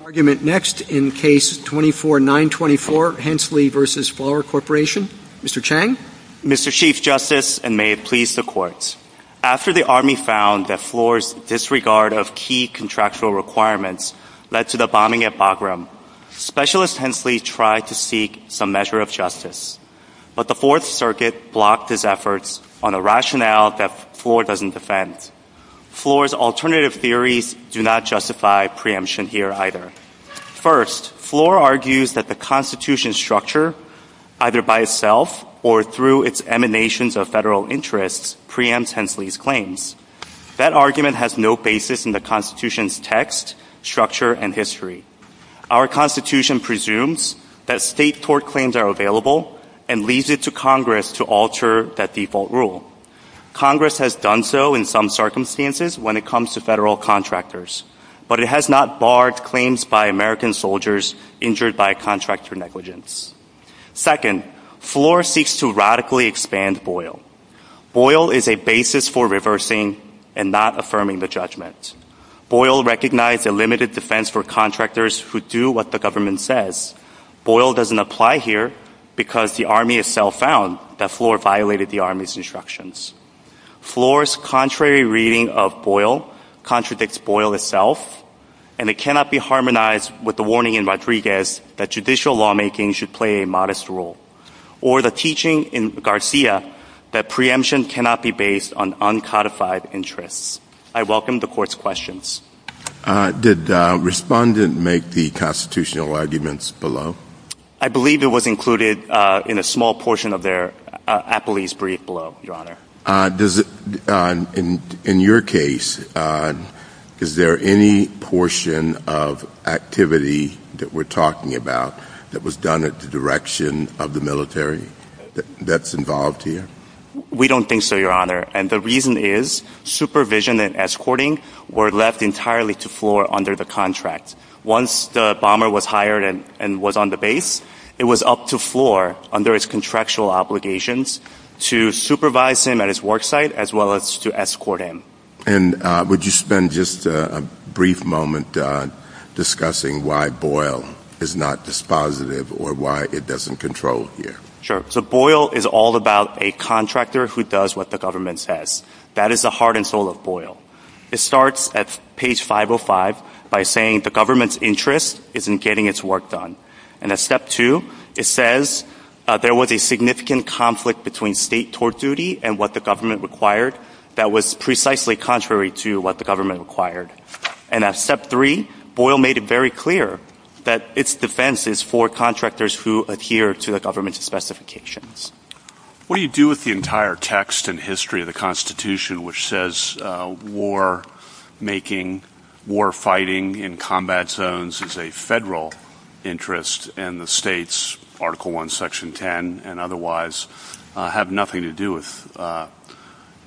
After the Army found that Fluor's disregard of key contractual requirements led to the bombing at Bagram, Specialist Hensley tried to seek some measure of justice. But the Fourth Circuit blocked his efforts on a rationale that Fluor doesn't defend. Fluor's alternative theories do not justify preemption here either. First, Fluor argues that the Constitution's structure, either by itself or through its emanations of federal interests, preempts Hensley's claims. That argument has no basis in the Constitution's text, structure, and history. Our Constitution presumes that state tort claims are available and leads it to Congress to alter that default rule. Congress has done so in some circumstances when it comes to federal contractors, but it has not barred claims by American soldiers injured by a contractual negligence. Second, Fluor seeks to radically expand Boyle. Boyle is a basis for reversing and not affirming the judgment. Boyle recognized a limited defense for contractors who do what the government says. Boyle doesn't apply here because the Army itself found that Fluor violated the Army's instructions. Fluor's contrary reading of Boyle contradicts Boyle itself, and it cannot be harmonized with the warning in Rodriguez that judicial lawmaking should play a modest role, or the teaching in Garcia that preemption cannot be based on uncodified interests. I welcome the Court's questions. Did Respondent make the constitutional arguments below? I believe it was included in a small portion of their appellee's brief below, Your Honor. In your case, is there any portion of activity that we're talking about that was done at the direction of the military that's involved here? We don't think so, Your Honor. The reason is supervision and escorting were left entirely to Fluor under the contract. Once the bomber was hired and was on the base, it was up to Fluor under his contractual obligations to supervise him at his work site as well as to escort him. Would you spend just a brief moment discussing why Boyle is not dispositive or why it doesn't control here? Sure. So Boyle is all about a contractor who does what the government says. That is the heart and soul of Boyle. It starts at page 505 by saying the government's interest is in getting its work done. And at step two, it says there was a significant conflict between state tort duty and what the government required that was precisely contrary to what the government required. And at step three, Boyle made it very clear that its defense is for contractors who adhere to the government's specifications. What do you do with the entire text and history of the Constitution which says war making, war fighting in combat zones is a federal interest and the states, Article 1, Section 10, and otherwise have nothing to do with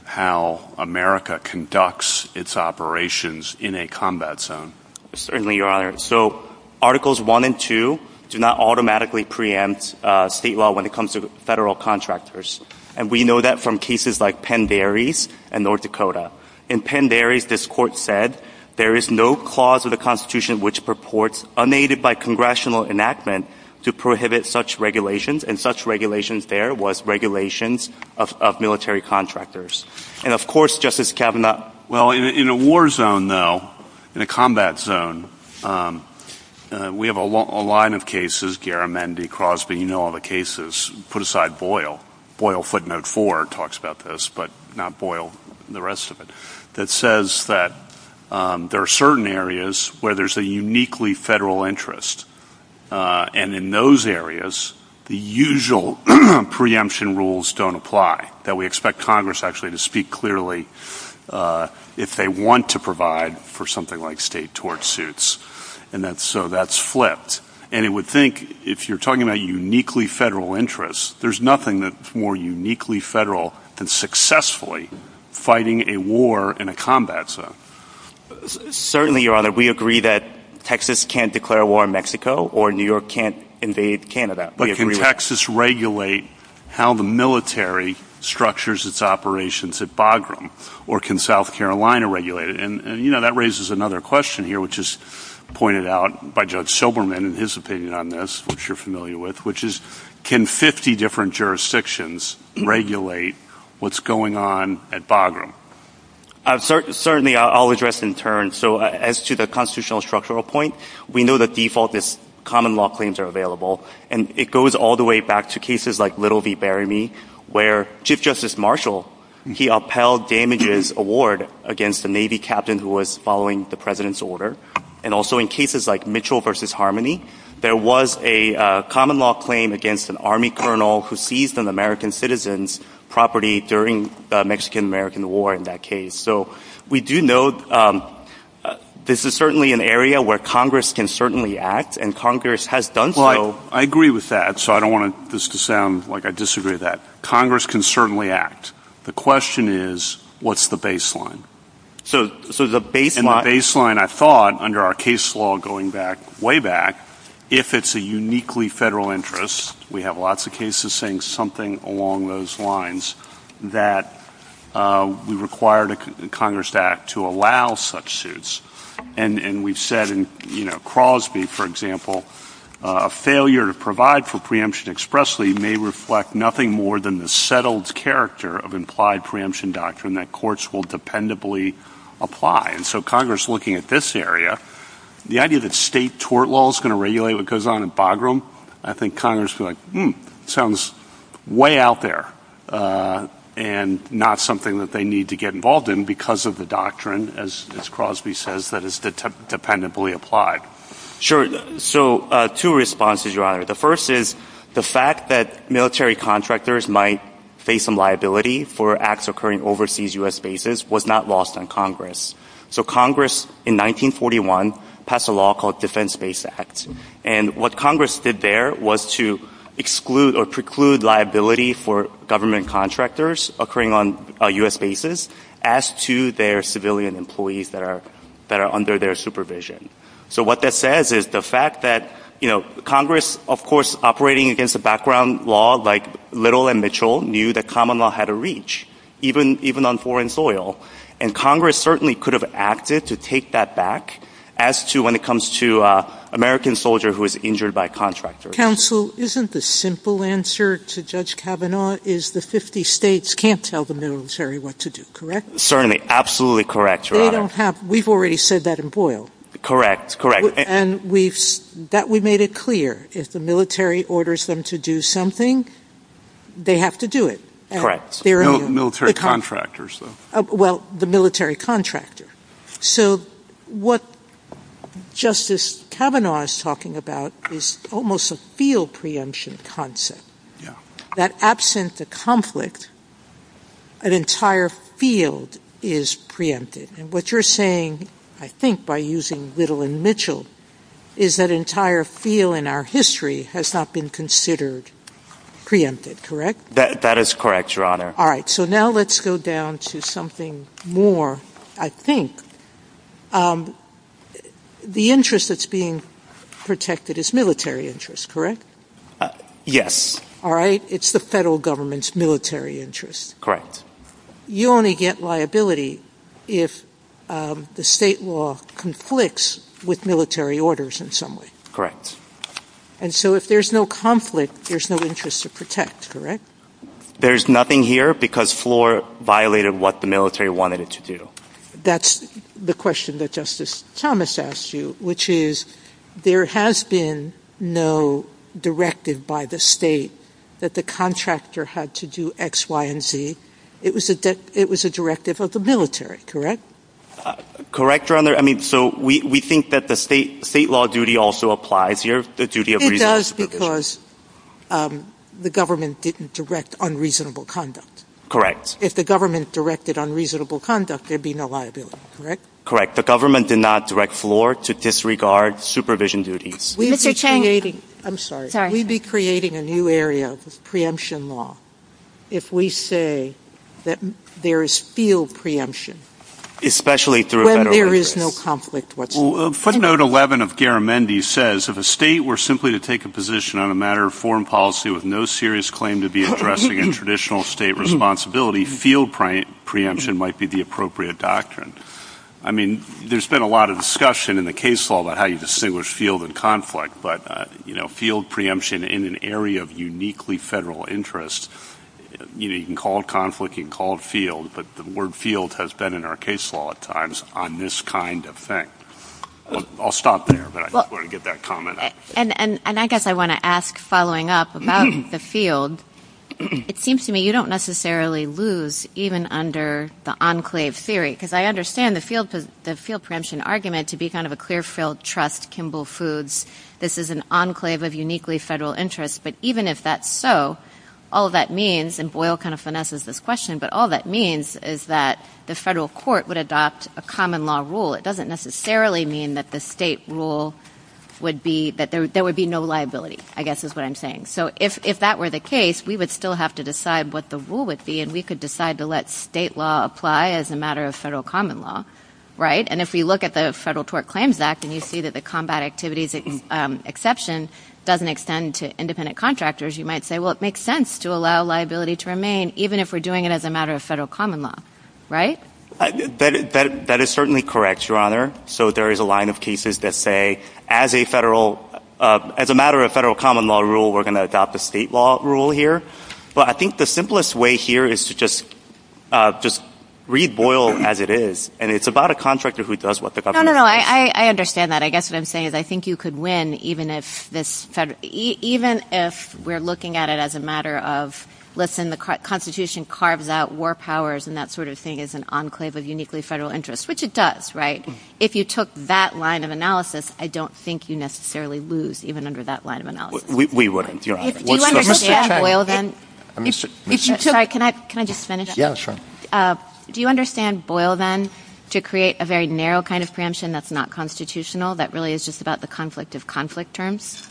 how America conducts its operations in a combat zone? Certainly, Your Honor. So Articles 1 and 2 do not automatically preempt state law when it comes to federal contractors. And we know that from cases like Penn Dairies and North Dakota. In Penn Dairies, this court said there is no clause of the Constitution which purports unaided by congressional enactment to prohibit such regulations and such regulations there was regulations of military contractors. And of course, Justice Kavanaugh... Well, in a war zone, though, in a combat zone, we have a line of cases, Garamendi, Crosby, you know all the cases, put aside Boyle, Boyle footnote four talks about this, but not Boyle, the rest of it, that says that there are certain areas where there's a uniquely federal interest. And in those areas, the usual preemption rules don't apply, that we expect Congress actually to speak clearly if they want to provide for something like state tort suits. And that's so that's flipped. And it would think if you're talking about uniquely federal interests, there's nothing that's more uniquely federal than successfully fighting a war in a combat zone. Certainly, Your Honor, we agree that Texas can't declare war in Mexico or New York can't invade Canada. But can Texas regulate how the military structures its operations at Bagram? Or can South Carolina regulate it? And you know, that raises another question here, which is pointed out by Judge Silberman in his opinion on this, which you're familiar with, which is, can 50 different jurisdictions regulate what's going on at Bagram? Certainly, I'll address in turn. So as to the constitutional structural point, we know the default is common law claims are And it goes all the way back to cases like Little v. Barryme, where Chief Justice Marshall, he upheld damages award against the Navy captain who was following the President's order. And also in cases like Mitchell v. Harmony, there was a common law claim against an army colonel who seized an American citizen's property during the Mexican-American war in that case. So we do know this is certainly an area where Congress can certainly act and Congress has done so. Well, I agree with that. So I don't want this to sound like I disagree that Congress can certainly act. The question is, what's the baseline? So the baseline, I thought under our case law going back way back, if it's a uniquely federal interest, we have lots of cases saying something along those lines that we require the Congress Act to allow such suits. And we've said in Crosby, for example, a failure to provide for preemption expressly may reflect nothing more than the settled character of implied preemption doctrine that courts will dependably apply. And so Congress looking at this area, the idea that state tort law is going to regulate goes on in Bagram, I think Congress sounds way out there and not something that they need to get involved in because of the doctrine, as Crosby says, that is dependably applied. Sure. So two responses, Your Honor. The first is the fact that military contractors might face some liability for acts occurring overseas U.S. bases was not lost on Congress. So Congress in 1941 passed a law called Defense Base Act. And what Congress did there was to exclude or preclude liability for government contractors occurring on U.S. bases as to their civilian employees that are under their supervision. So what that says is the fact that Congress, of course, operating against the background law like Little and Mitchell knew that common law had a reach, even on foreign soil. And Congress certainly could have acted to take that back as to when it comes to American soldier who was injured by a contractor. Counsel, isn't the simple answer to Judge Kavanaugh is the 50 states can't tell the military what to do, correct? Certainly. Absolutely correct, Your Honor. They don't have... We've already said that in Boyle. Correct. Correct. And we've... That we made it clear. If the military orders them to do something, they have to do it. Correct. There are no... There are no contractors, though. Well, the military contractor. So what Justice Kavanaugh is talking about is almost a field preemption concept. That absent the conflict, an entire field is preempted. And what you're saying, I think, by using Little and Mitchell, is that entire field in our history has not been considered preempted, correct? That is correct, Your Honor. All right. So now let's go down to something more, I think. The interest that's being protected is military interest, correct? Yes. All right. It's the federal government's military interest. Correct. You only get liability if the state law conflicts with military orders in some way. Correct. And so if there's no conflict, there's no interest to protect, correct? There's nothing here because Floor violated what the military wanted it to do. That's the question that Justice Thomas asked you, which is, there has been no directive by the state that the contractor had to do X, Y, and Z. It was a directive of the military, correct? Correct, Your Honor. I mean, so we think that the state law duty also applies here, the duty of responsibility. That's because the government didn't direct unreasonable conduct. Correct. If the government directed unreasonable conduct, there'd be no liability, correct? Correct. The government did not direct Floor to disregard supervision duties. Mr. Chang. I'm sorry. We'd be creating a new area of preemption law if we say that there is field preemption. Especially through federal interest. When there is no conflict whatsoever. Footnote 11 of Garamendi says, if a state were simply to take a position on a matter of foreign policy with no serious claim to be addressing a traditional state responsibility, field preemption might be the appropriate doctrine. I mean, there's been a lot of discussion in the case law about how you distinguish field and conflict, but field preemption in an area of uniquely federal interest, you can call it conflict, you can call it field, but the word field has been in our case law at times on this kind of thing. I'll stop there, but I just wanted to get that comment out. And I guess I want to ask, following up, about the field, it seems to me you don't necessarily lose even under the enclave theory, because I understand the field preemption argument to be kind of a clear-filled trust, Kimball Foods, this is an enclave of uniquely federal interest. But even if that's so, all that means, and Boyle kind of finesses this question, but all that means is that the federal court would adopt a common law rule. It doesn't necessarily mean that the state rule would be, that there would be no liability, I guess is what I'm saying. So if that were the case, we would still have to decide what the rule would be, and we could decide to let state law apply as a matter of federal common law, right? And if we look at the Federal Tort Claims Act, and you see that the combat activities exception doesn't extend to independent contractors, you might say, well, it makes sense to allow liability to remain, even if we're doing it as a matter of federal common law, right? That is certainly correct, Your Honor. So there is a line of cases that say, as a matter of federal common law rule, we're going to adopt the state law rule here. But I think the simplest way here is to just read Boyle as it is, and it's about a contractor who does what the government does. No, no, no. I understand that. I guess what I'm saying is I think you could win, even if we're looking at it as a matter of, listen, the Constitution carved out war powers, and that sort of thing is an enclave of uniquely federal interests, which it does, right? If you took that line of analysis, I don't think you necessarily lose, even under that line of analysis. We wouldn't, Your Honor. If you understand Boyle, then... I'm sorry. Can I just finish up? Yeah, sure. Do you understand Boyle, then, to create a very narrow kind of preemption that's not constitutional, that really is just about the conflict of contract terms?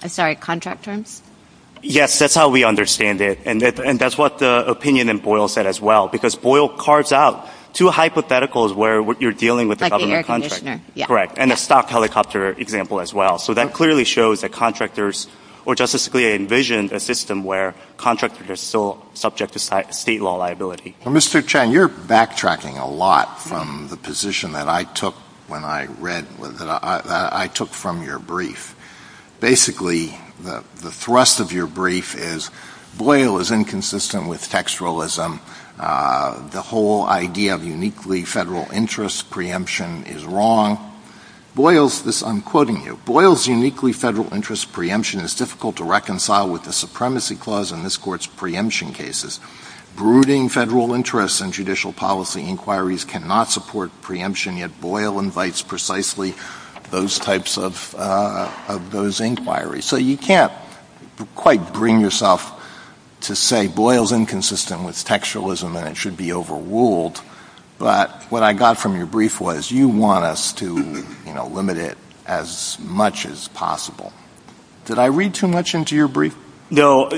Yes. That's how we understand it, and that's what the opinion in Boyle said as well, because Boyle carves out two hypotheticals where you're dealing with the government contract. Correct. And a stock helicopter example as well. So that clearly shows that contractors, or justicially envisioned, a system where contractors are still subject to state law liability. Well, Mr. Chang, you're backtracking a lot from the position that I took when I read, that I took from your brief. Basically, the thrust of your brief is, Boyle is inconsistent with textualism. The whole idea of uniquely federal interest preemption is wrong. Boyle's... I'm quoting you. Boyle's uniquely federal interest preemption is difficult to reconcile with the supremacy clause in this court's preemption cases. Brooding federal interest in judicial policy inquiries cannot support preemption, yet Boyle invites precisely those types of inquiries. So you can't quite bring yourself to say, Boyle's inconsistent with textualism and it should be overruled. But what I got from your brief was, you want us to limit it as much as possible. Did I read too much into your brief? No.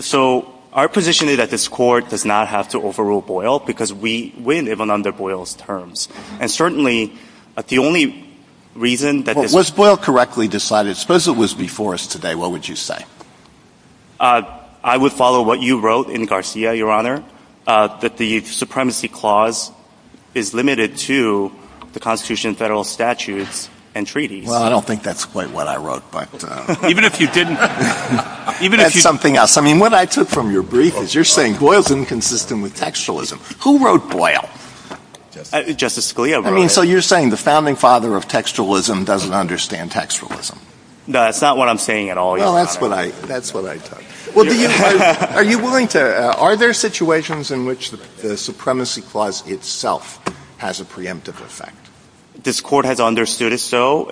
So, our position is that this court does not have to overrule Boyle, because we live under Boyle's terms. And certainly, the only reason that... Was Boyle correctly decided? Suppose it was before us today, what would you say? I would follow what you wrote in Garcia, Your Honor, that the supremacy clause is limited to the Constitution and federal statutes and treaties. Well, I don't think that's quite what I wrote back then. Even if you didn't... That's something else. I mean, what I took from your brief is, you're saying, Boyle's inconsistent with textualism. Who wrote Boyle? Justice Scalia wrote it. I mean, so you're saying the founding father of textualism doesn't understand textualism. No, that's not what I'm saying at all, Your Honor. Well, that's what I thought. Are there situations in which the supremacy clause itself has a preemptive effect? This court has understood it so,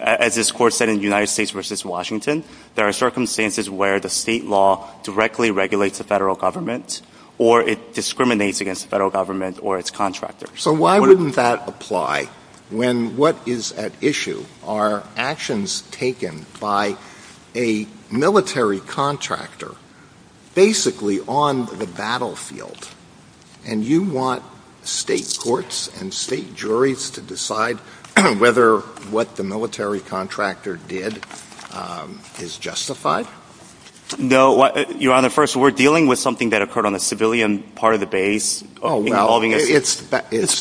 as this court said in United States v. Washington, there are circumstances where the state law directly regulates the federal government or it discriminates against the federal government or its contractors. So why wouldn't that apply when what is at issue are actions taken by a military contractor basically on the battlefield, and you want state courts and state juries to decide whether what the military contractor did is justified? No, Your Honor, first, we're dealing with something that occurred on the civilian part of the base. It's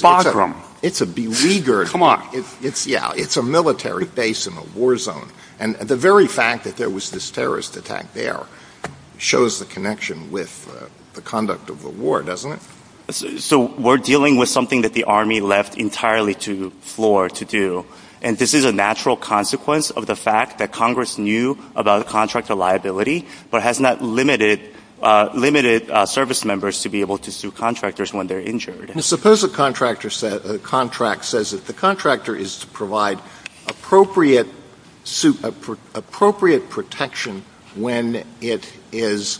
a military base in a war zone, and the very fact that there was this terrorist attack there shows the connection with the conduct of the war, doesn't it? So we're dealing with something that the Army left entirely to floor to do, and this is a natural consequence of the fact that Congress knew about the contractor liability but has not limited service members to be able to sue contractors when they're injured. Suppose a contractor says that the contractor is to provide appropriate protection when it is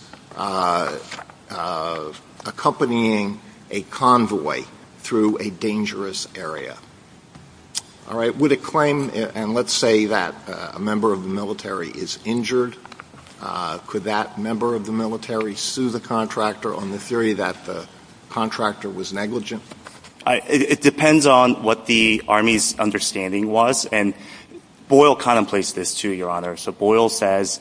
accompanying a convoy through a dangerous area. Would it claim, and let's say that a member of the military is injured? Could that member of the military sue the contractor on the theory that the contractor was negligent? It depends on what the Army's understanding was, and Boyle contemplates this too, Your Honor. So Boyle says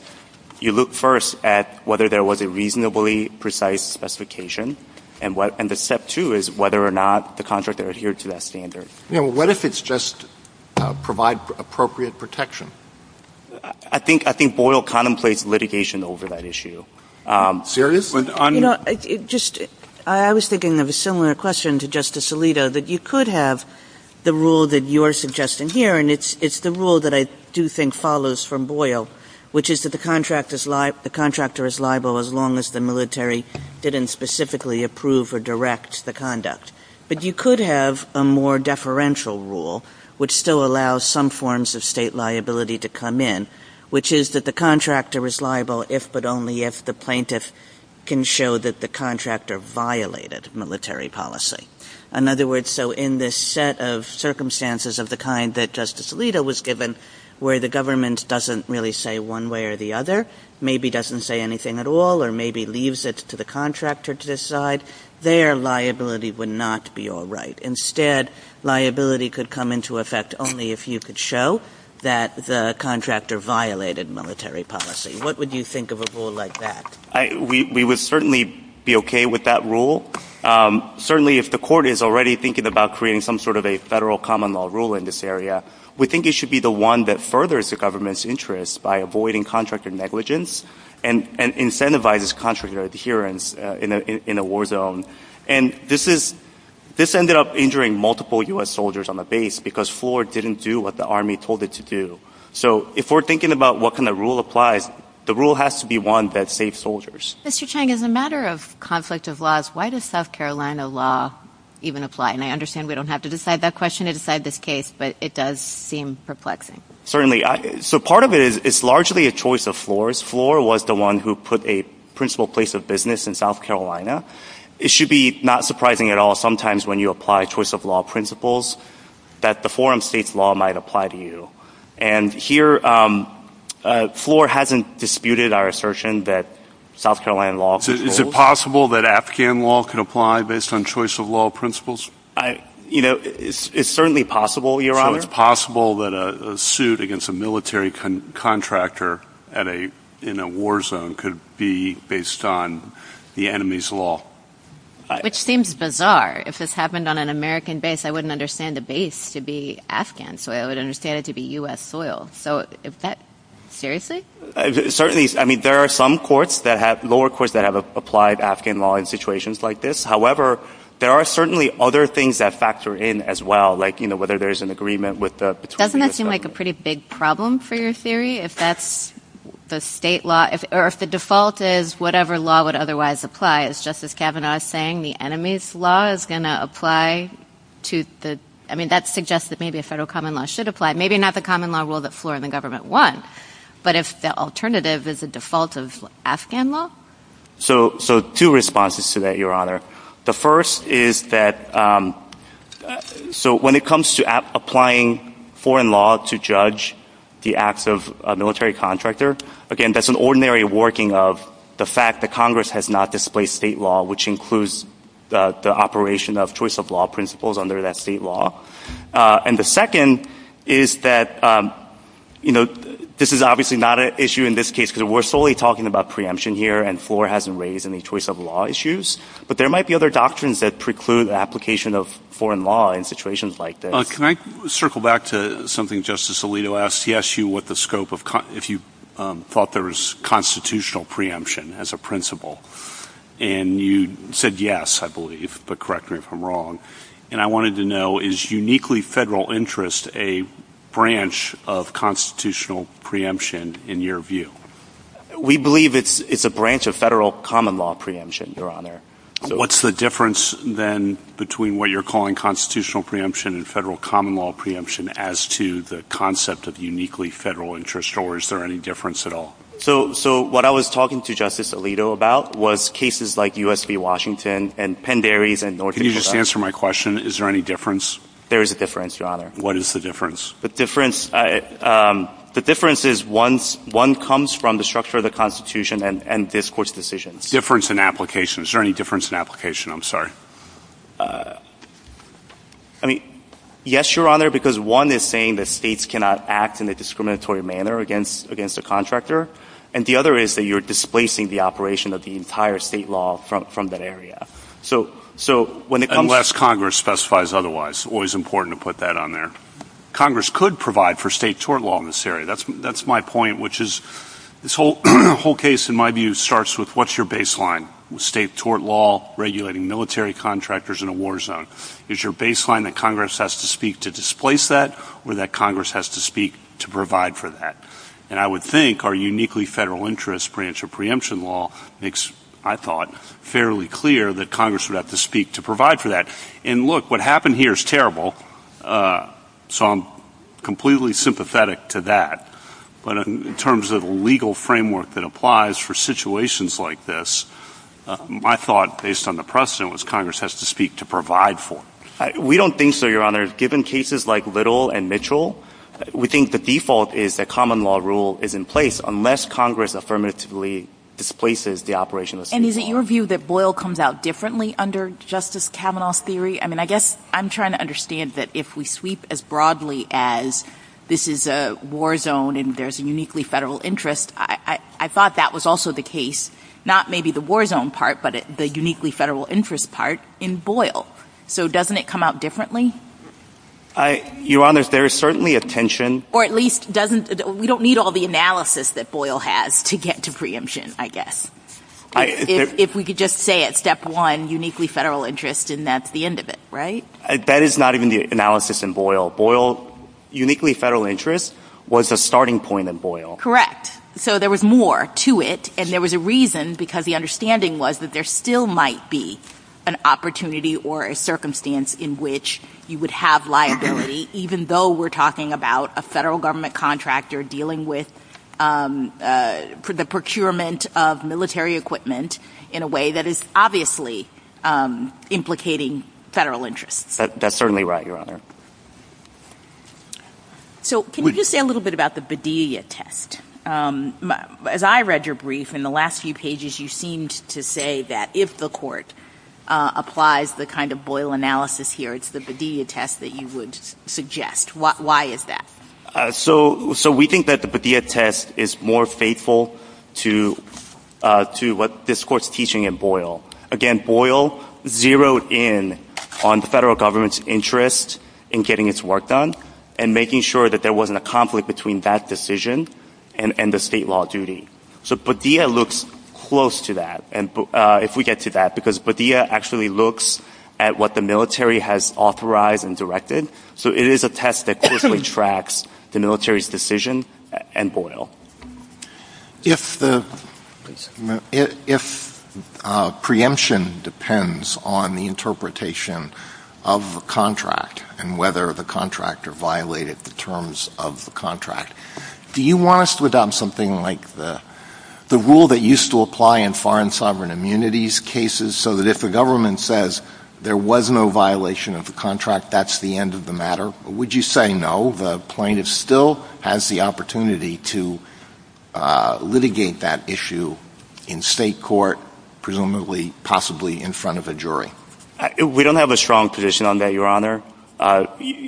you look first at whether there was a reasonably precise specification, and the step two is whether or not the contractor adhered to that standard. What if it's just provide appropriate protection? I think Boyle contemplates litigation over that issue. Sirius? You know, I was thinking of a similar question to Justice Alito, that you could have the rule that you're suggesting here, and it's the rule that I do think follows from Boyle, which is that the contractor is liable as long as the military didn't specifically approve or direct the conduct, but you could have a more deferential rule, which still allows some forms of state liability to come in, which is that the contractor is liable if but only if the plaintiff can show that the contractor violated military policy. In other words, so in this set of circumstances of the kind that Justice Alito was given, where the government doesn't really say one way or the other, maybe doesn't say anything at all, or maybe leaves it to the contractor to decide, their liability would not be all right. Instead, liability could come into effect only if you could show that the contractor violated military policy. What would you think of a rule like that? We would certainly be okay with that rule. Certainly if the court is already thinking about creating some sort of a federal common law rule in this area, we think it should be the one that furthers the government's interest by avoiding contractor negligence, and incentivizes contractor adherence in a war zone. This ended up injuring multiple U.S. soldiers on the base because Floor didn't do what the Army told it to do. So if we're thinking about what kind of rule applies, the rule has to be one that saves soldiers. Mr. Chang, as a matter of conflict of laws, why does South Carolina law even apply? I understand we don't have to decide that question to decide this case, but it does seem perplexing. Certainly. So part of it is, it's largely a choice of Floor's. Floor was the one who put a principal place of business in South Carolina. It should be not surprising at all, sometimes when you apply choice of law principles, that the forum state's law might apply to you. And here, Floor hasn't disputed our assertion that South Carolina law could hold. Is it possible that Afghan law could apply based on choice of law principles? You know, it's certainly possible, Your Honor. So it's possible that a suit against a military contractor in a war zone could be based on the enemy's law. Which seems bizarre. If this happened on an American base, I wouldn't understand a base to be Afghan soil. I would understand it to be U.S. soil. So is that seriously? Certainly. I mean, there are some courts that have, lower courts that have applied Afghan law in situations like this. However, there are certainly other things that factor in as well, like, you know, whether there is an agreement with the petroleum company. Doesn't that seem like a pretty big problem for your theory, if that's the state law, or if the default is whatever law would otherwise apply? Is Justice Kavanaugh saying the enemy's law is going to apply? I mean, that suggests that maybe a federal common law should apply. Maybe not the common law rule that Floor and the government won. But if the alternative is the default of Afghan law? So two responses to that, Your Honor. The first is that, so when it comes to applying foreign law to judge the acts of a military contractor, again, that's an ordinary working of the fact that Congress has not displayed state law, which includes the operation of choice of law principles under that state law. And the second is that, you know, this is obviously not an issue in this case, because we're solely talking about preemption here, and Floor hasn't raised any choice of law issues. But there might be other doctrines that preclude the application of foreign law in situations like this. Can I circle back to something Justice Alito asked? He asked you if you thought there was constitutional preemption as a principle. And you said yes, I believe, but correct me if I'm wrong. And I wanted to know, is uniquely federal interest a branch of constitutional preemption in your view? We believe it's a branch of federal common law preemption, Your Honor. What's the difference, then, between what you're calling constitutional preemption and federal common law preemption as to the concept of uniquely federal interest? Or is there any difference at all? So what I was talking to Justice Alito about was cases like U.S. v. Washington and Penn Dairies and North Dakota. Can you just answer my question? Is there any difference? There is a difference, Your Honor. What is the difference? The difference is one comes from the structure of the Constitution and this Court's decisions. Difference in application. Is there any difference in application? I'm sorry. I mean, yes, Your Honor, because one is saying that states cannot act in a discriminatory manner against a contractor. And the other is that you're displacing the operation of the entire state law from that area. Unless Congress specifies otherwise. Always important to put that on there. Congress could provide for state tort law in this area. That's my point, which is this whole case, in my view, starts with what's your baseline? State tort law regulating military contractors in a war zone. Is your baseline that Congress has to speak to displace that or that Congress has to speak to provide for that? And I would think our uniquely federal interest branch of preemption law makes, I thought, fairly clear that Congress would have to speak to provide for that. And look, what happened here is terrible. So I'm completely sympathetic to that. But in terms of a legal framework that applies for situations like this, my thought, based on the precedent, was Congress has to speak to provide for it. We don't think so, Your Honor. Given cases like Little and Mitchell, we think the default is that common law rule is in place unless Congress affirmatively displaces the operation of the state law. And is it your view that Boyle comes out differently under Justice Kavanaugh's theory? I guess I'm trying to understand that if we sweep as broadly as this is a war zone and there's a uniquely federal interest, I thought that was also the case, not maybe the war zone part, but the uniquely federal interest part in Boyle. So doesn't it come out differently? Your Honor, there is certainly a tension. Or at least, we don't need all the analysis that Boyle has to get to preemption, I guess. If we could just say it, step one, uniquely federal interest, and that's the end of it. Right? That is not even the analysis in Boyle. Boyle, uniquely federal interest, was a starting point in Boyle. Correct. So there was more to it. And there was a reason, because the understanding was that there still might be an opportunity or a circumstance in which you would have liability, even though we're talking about a federal government contractor dealing with the procurement of military equipment in a way that is obviously implicating federal interest. That's certainly right, Your Honor. So can you just say a little bit about the Bedelia test? As I read your brief, in the last few pages, you seemed to say that if the court applies the kind of Boyle analysis here, it's the Bedelia test that you would suggest. Why is that? So we think that the Bedelia test is more faithful to what this court's teaching in Boyle. Again, Boyle zeroed in on the federal government's interest in getting its work done and making sure that there wasn't a conflict between that decision and the state law duty. So Bedelia looks close to that, if we get to that. Because Bedelia actually looks at what the military has authorized and directed. So it is a test that closely tracks the military's decision and Boyle. If preemption depends on the interpretation of a contract and whether the contractor violated the terms of the contract, do you want us to adopt something like the rule that used to apply in foreign sovereign immunities cases so that if the government says there was no violation of the contract, that's the end of the matter? Would you say no? The plaintiff still has the opportunity to litigate that issue in state court, presumably, possibly in front of a jury? We don't have a strong position on that, Your Honor.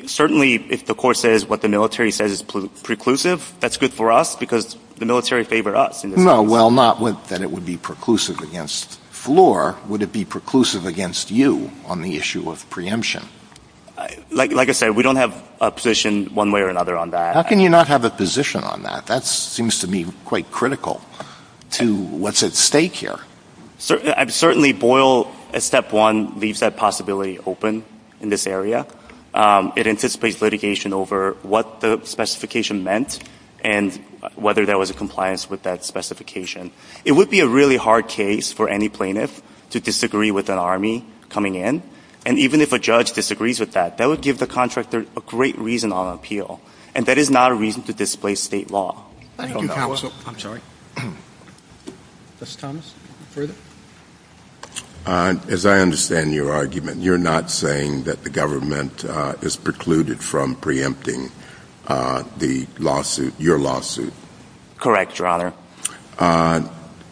Certainly, if the court says what the military says is preclusive, that's good for us because the military favored us. No, well, not that it would be preclusive against Floor. Would it be preclusive against you on the issue of preemption? Like I said, we don't have a position one way or another on that. How can you not have a position on that? That seems to me quite critical to what's at stake here. Certainly, Boyle, at step one, leaves that possibility open in this area. It anticipates litigation over what the specification meant and whether there was a compliance with that specification. It would be a really hard case for any plaintiff to disagree with an army coming in, and even if a judge disagrees with that, that would give the contractor a great reason on appeal, and that is not a reason to displace state law. Thank you, counsel. I'm sorry. Mr. Thomas? As I understand your argument, you're not saying that the government is precluded from preempting the lawsuit, your lawsuit? Correct, Your Honor.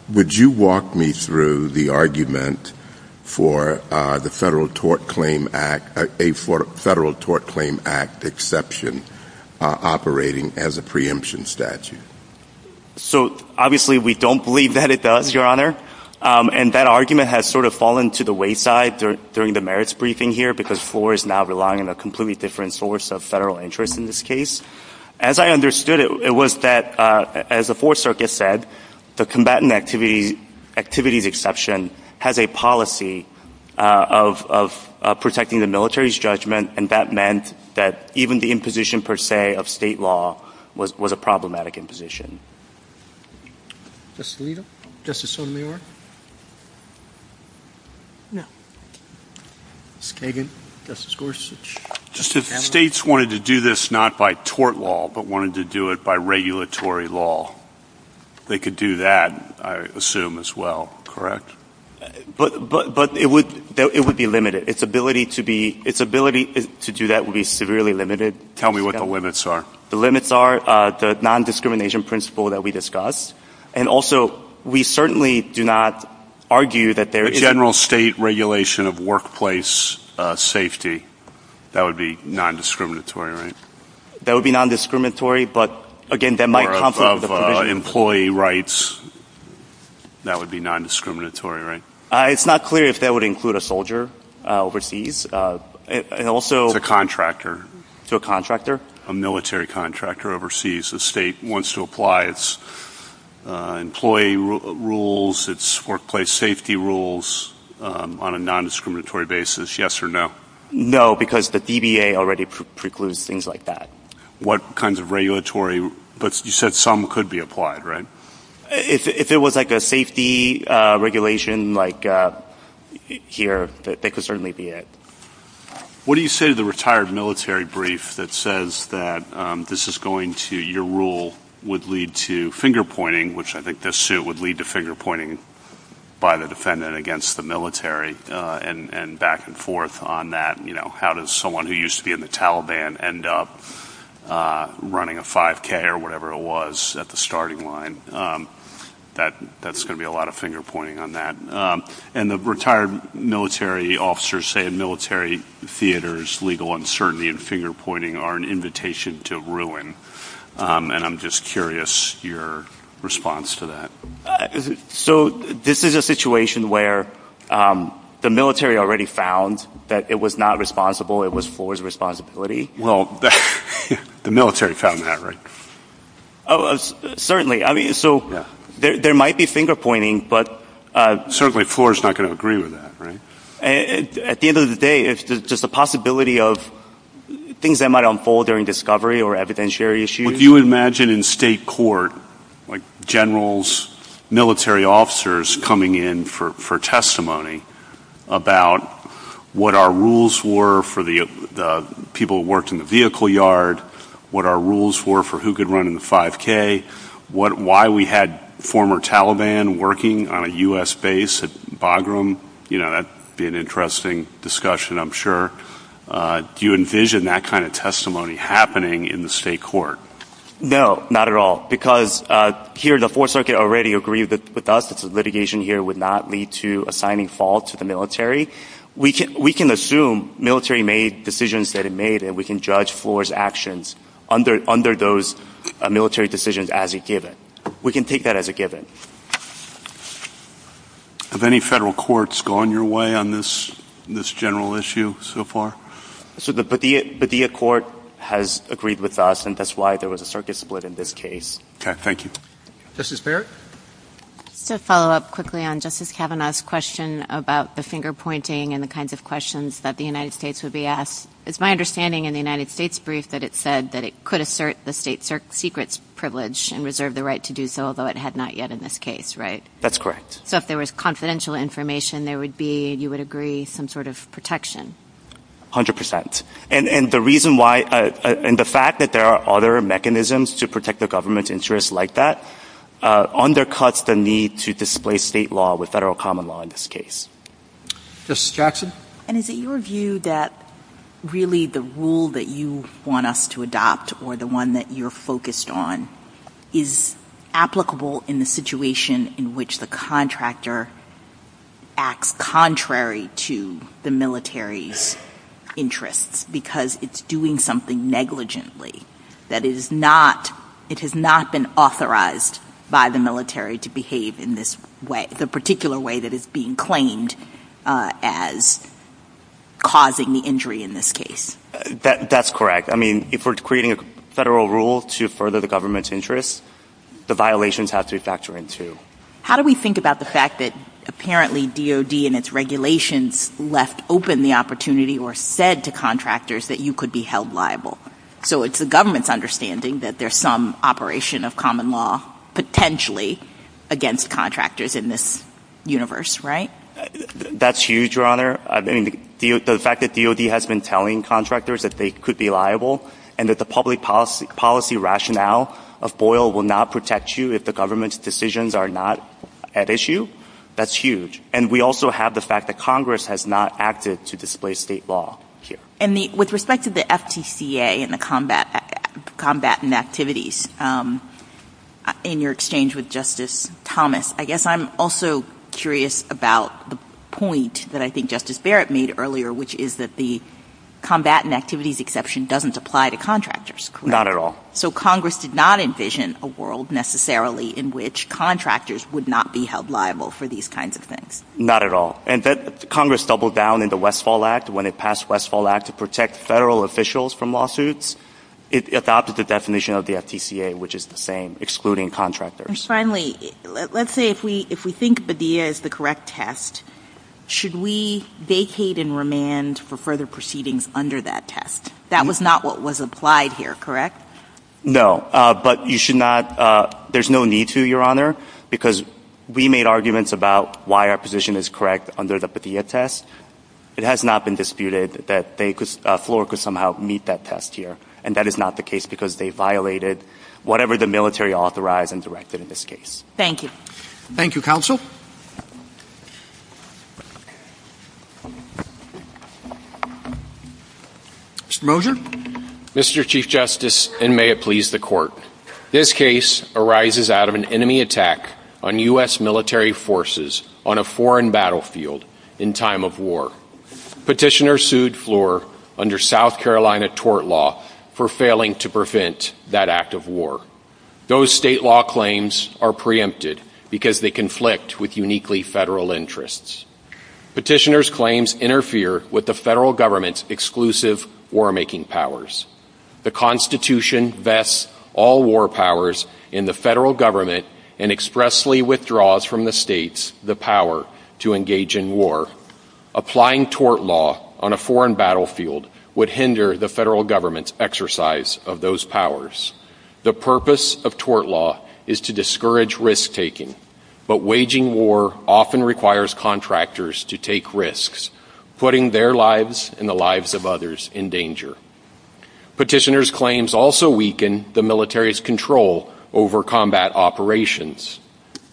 Would you walk me through the argument for the Federal Tort Claim Act, a Federal Tort Claim Act exception operating as a preemption statute? So, obviously, we don't believe that it does, Your Honor, and that argument has sort of fallen to the wayside during the merits briefing here because FLOR is now relying on a completely different source of federal interest in this case. As I understood it, it was that, as the Fourth Circuit said, the combatant activities exception has a policy of protecting the military's judgment, and that meant that even the imposition, per se, of state law was a problematic imposition. Justice Alito? Justice Sotomayor? No. Justice Kagan? Justice Gorsuch? Justices, states wanted to do this not by tort law, but wanted to do it by regulatory law. They could do that, I assume, as well, correct? But it would be limited. Its ability to do that would be severely limited. Tell me what the limits are. The limits are the non-discrimination principle that we discussed, and also, we certainly do not argue that there is... A general state regulation of workplace safety. That would be non-discriminatory, right? That would be non-discriminatory, but again, that might conflict... Or of employee rights. That would be non-discriminatory, right? It's not clear if that would include a soldier overseas, and also... To a contractor. To a contractor? A military contractor overseas. The state wants to apply its employee rules, its workplace safety rules, on a non-discriminatory basis, yes or no? No, because the DBA already precludes things like that. What kinds of regulatory... But you said some could be applied, right? If it was like a safety regulation, like here, that could certainly be it. What do you say to the retired military brief that says that this is going to... Your rule would lead to finger-pointing, which I think this suit would lead to finger-pointing by the defendant against the military, and back and forth on that. You know, how does someone who used to be in the Taliban end up running a 5K or whatever it was at the starting line? That's going to be a lot of finger-pointing on that. And the retired military officers say a military theater's legal uncertainty and finger-pointing are an invitation to ruin. And I'm just curious your response to that. So this is a situation where the military already found that it was not responsible, it was Ford's responsibility? Well, the military found that, right? Certainly. So there might be finger-pointing, but... Certainly Ford's not going to agree with that, right? At the end of the day, it's just a possibility of things that might unfold during discovery or evidentiary issues. Would you imagine in state court, like generals, military officers coming in for testimony about what our rules were for the people who worked in the vehicle yard, what our rules were for who could run in the 5K, why we had former Taliban working on a U.S. base at Bagram? That would be an interesting discussion, I'm sure. Do you envision that kind of testimony happening in the state court? No, not at all. Because here the Fourth Circuit already agreed with us that litigation here would not lead to assigning fault to the military. We can assume military made decisions that it made and we can judge Ford's actions under those military decisions as a given. We can take that as a given. Have any federal courts gone your way on this general issue so far? The Padilla Court has agreed with us and that's why there was a circuit split in this case. Okay, thank you. Justice Barrett? To follow up quickly on Justice Kavanaugh's question about the finger-pointing and the kinds of questions that the United States would be asked, it's my understanding in the United States' brief that it said that it could assert the state secret's privilege and reserve the right to do so, although it had not yet in this case, right? That's correct. So if there was confidential information, there would be, you would agree, some sort of protection? 100%. And the reason why, and the fact that there are other mechanisms to protect the government's interests like that undercuts the need to display state law with federal common law in this case. Justice Jackson? And is it your view that really the rule that you want us to adopt or the one that you're focused on is applicable in the situation in which the contractor acts contrary to the military interests because it's doing something negligently that is not, it has not been authorized by the military to behave in this way, the particular way that is being claimed as causing the injury in this case? That's correct. I mean, if we're creating a federal rule to further the government's interests, the violations have to be factored in too. How do we think about the fact that apparently DOD and its regulations left open the opportunity or said to contractors that you could be held liable? So it's the government's understanding that there's some operation of common law potentially against contractors in this universe, right? That's huge, Your Honor. I mean, the fact that DOD has been telling contractors that they could be liable and that the public policy rationale of FOIL will not protect you if the government's decisions are not at issue, that's huge. And we also have the fact that Congress has not acted to display state law here. And with respect to the FTCA and the combat and activities in your exchange with Justice Thomas, I guess I'm also curious about the point that I think Justice Barrett made earlier, which is that the combat and activities exception doesn't apply to contractors, correct? Not at all. So Congress did not envision a world necessarily in which contractors would not be held liable for these kinds of things? Not at all. And Congress doubled down in the Westfall Act when it passed Westfall Act to protect federal officials from lawsuits. It adopted the definition of the FTCA, which is the same, excluding contractors. And finally, let's say if we think BDEA is the correct test, should we vacate and remand for further proceedings under that test? That was not what was applied here, correct? No, but you should not... There's no need to, Your Honor, because we made arguments about why our position is correct under the BDEA test. It has not been disputed that FLOR could somehow meet that test here. And that is not the case because they violated whatever the military authorized and directed in this case. Thank you. Thank you, Counsel. Mr. Moser. Mr. Chief Justice, and may it please the Court, this case arises out of an enemy attack on U.S. military forces on a foreign battlefield in time of war. Petitioners sued FLOR under South Carolina tort law for failing to prevent that act of war. Those state law claims are preempted because they conflict with uniquely federal interests. Petitioners' claims interfere with the federal government's exclusive war-making powers. The Constitution vests all war powers in the federal government and expressly withdraws from the states the power to engage in war. Applying tort law on a foreign battlefield would hinder the federal government's exercise of those powers. The purpose of tort law is to discourage risk-taking, but waging war often requires contractors to take risks, putting their lives and the lives of others in danger. Petitioners' claims also weaken the military's control over combat operations.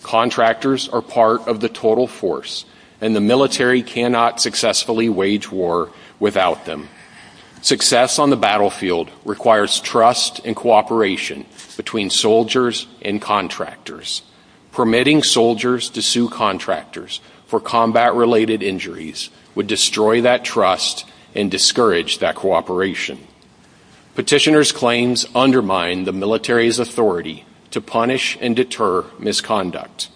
Contractors are part of the total force and the military cannot successfully wage war without them. Success on the battlefield requires trust and cooperation between soldiers and contractors. Permitting soldiers to sue contractors for combat-related injuries would destroy that trust and discourage that cooperation. Petitioners' claims undermine the military's authority to punish and deter misconduct.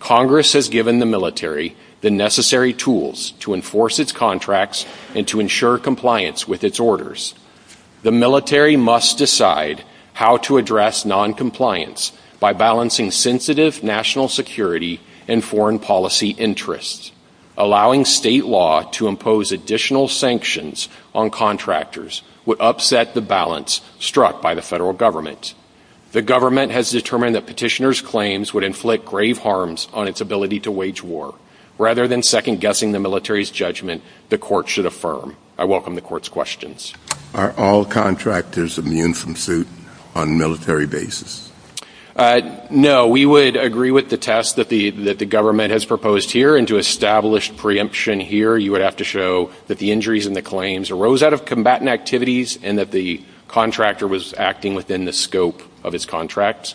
Congress has given the military the necessary tools to enforce its contracts and to ensure compliance with its orders. The military must decide how to address noncompliance by balancing sensitive national security and foreign policy interests. Allowing state law to impose additional sanctions on contractors would upset the balance struck by the federal government. The government has determined that petitioners' claims would inflict grave harms on its ability to wage war. Rather than second-guessing the military's judgment, the court should affirm. I welcome the court's questions. Are all contractors immune from suit on a military basis? No, we would agree with the test that the government has proposed here and to establish preemption here you would have to show that the injuries and the claims arose out of combatant activities and that the contractor was acting within the scope of its contract.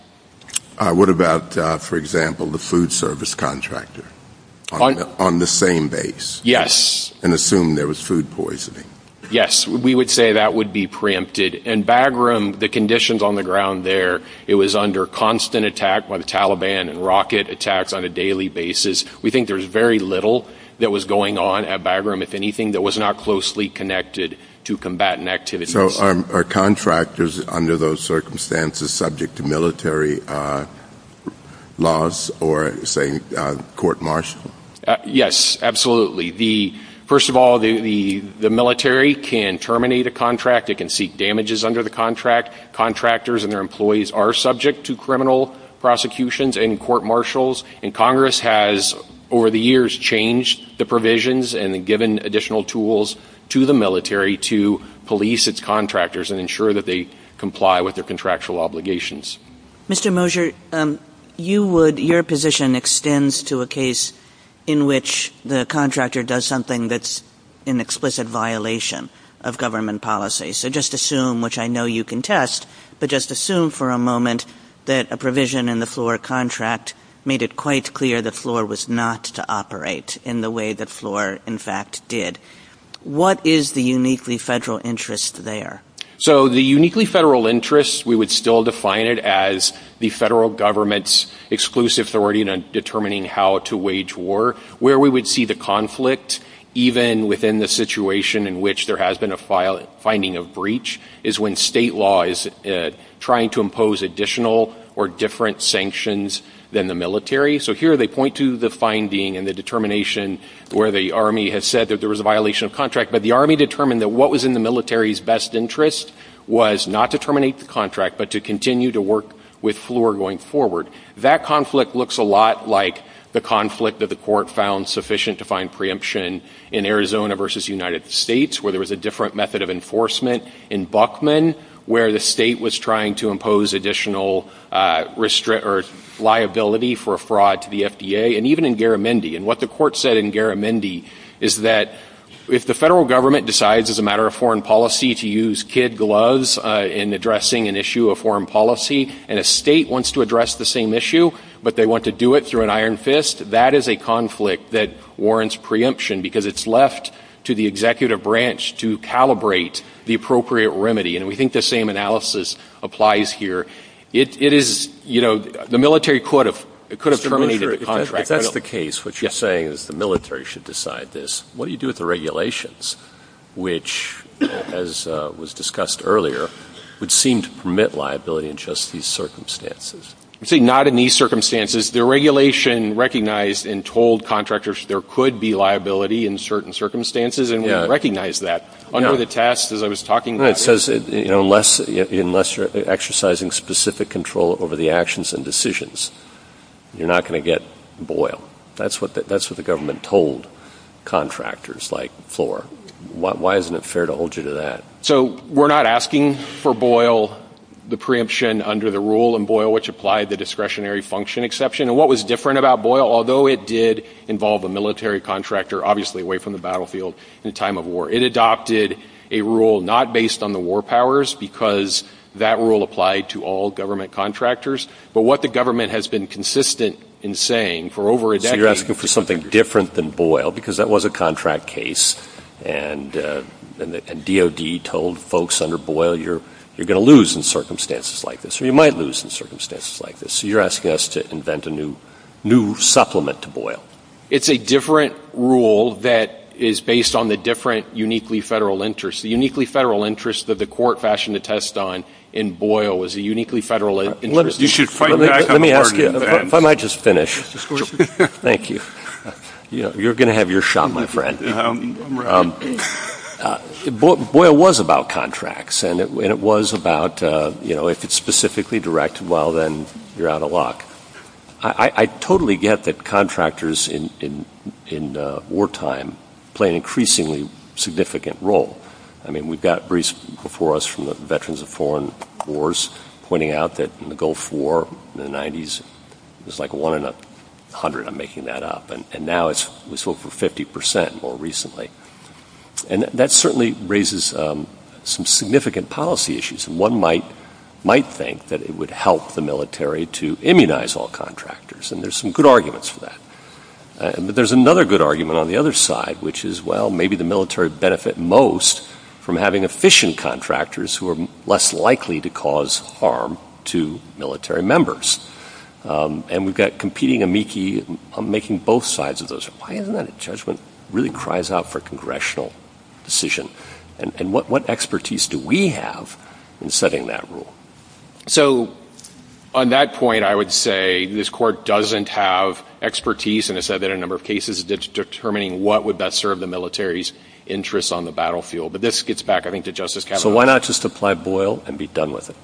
What about for example the food service contractor on the same base and assumed there was food poisoning? Yes, we would say that would be preempted and Bagram, the conditions on the ground there, it was under constant attack by the Taliban and rocket attacks on a daily basis. We think there was very little that was going on at Bagram, if anything, that was not closely connected to combatant activities. So are contractors under those circumstances subject to military laws or say court-martialed? Yes, absolutely. First of all the military can terminate a contract, they can seek damages under the contract. Contractors and their employees are subject to criminal prosecutions and court-martials and Congress has over the years changed the provisions and given additional tools to the military to police its contractors and ensure that they comply with their contractual obligations. Mr. Mosher, your position extends to a case in which the contractor does something that's an explicit violation of government policy. So just assume, which I know you can test, but just assume for a moment that a provision in the floor contract made it quite clear the floor was not to operate in the way the floor in fact did. What is the uniquely federal interest there? So the uniquely federal interest, we would still define it as the federal government's exclusive authority in determining how to wage war. Where we would see the conflict, even within the situation in which there has been a finding of breach, is when state law is trying to impose additional or different sanctions than the military. So here they point to the finding and the determination where the Army has said that there was a violation of contract, but the Army determined that what was in the military's best interest was not to terminate the contract, but to continue to work with floor going forward. That conflict looks a lot like the conflict that the court found sufficient to find preemption in Arizona versus the United States, where there was a different method of enforcement in Buckman, where the state was trying to impose additional liability for fraud to the FDA, and even in Garamendi. And what the court said in Garamendi is that if the federal government decides as a matter of foreign policy to use kid gloves in addressing an issue of foreign policy, and a state wants to address the same issue, but they want to do it through an iron fist, that is a conflict that warrants preemption, because it's left to the executive branch to calibrate the appropriate remedy. And we think the same analysis applies here. It is, you know, the military could have terminated the contract. If that's the case, what you're saying is the military should decide this. What do you do with the regulations, which, as was discussed earlier, would seem to permit liability in just these circumstances? You see, not in these circumstances. The regulation recognized and told contractors there could be liability in certain circumstances, and we recognize that. Under the test as I was talking about, it says unless you're exercising specific control over the actions and decisions, you're not going to get Boyle. That's what the government told contractors like Floor. Why isn't it fair to hold you to that? So, we're not asking for Boyle the preemption under the rule in Boyle which applied the discretionary function exception. And what was different about Boyle, although it did involve a military contractor, obviously away from the battlefield in time of war. It adopted a rule not based on the war powers because that rule applied to all government contractors. But what the government has been consistent in saying for over a decade... So, you're asking for something different than Boyle because that was a contract case and DOD told folks under Boyle you're going to lose in circumstances like this, or you might lose in circumstances like this. So, you're asking us to invent a new supplement to Boyle. It's a different rule that is based on the different uniquely federal interest. The uniquely federal interest that the court fashioned the test on in Boyle was a uniquely federal interest. Let me just finish. Thank you. You're going to have your shot, my friend. Boyle was about contracts and it was about if it's specifically directed well, then you're out of luck. I totally get that contractors in wartime play an increasingly significant role. I mean, we've got briefs before us from the veterans of foreign wars pointing out that in the Gulf War in the 90s, it was like 1 in 100, I'm making that up and now it's over 50% more recently. That certainly raises some significant policy issues. One might think that it would help the military to immunize all contractors and there's some good arguments for that. But there's another good argument on the other side, which is, well, maybe the military benefit most from having efficient contractors who are less likely to cause harm to military members. And we've got competing amici making both sides of those. Why isn't that a judgment? It really cries out for a congressional decision. And what expertise do we have in setting that rule? So, on that point, I would say this court doesn't have expertise in a number of cases determining what would best serve the military's interests on the battlefield. But this gets back I think to Justice Kavanaugh. So why not just apply Boyle and be done with it?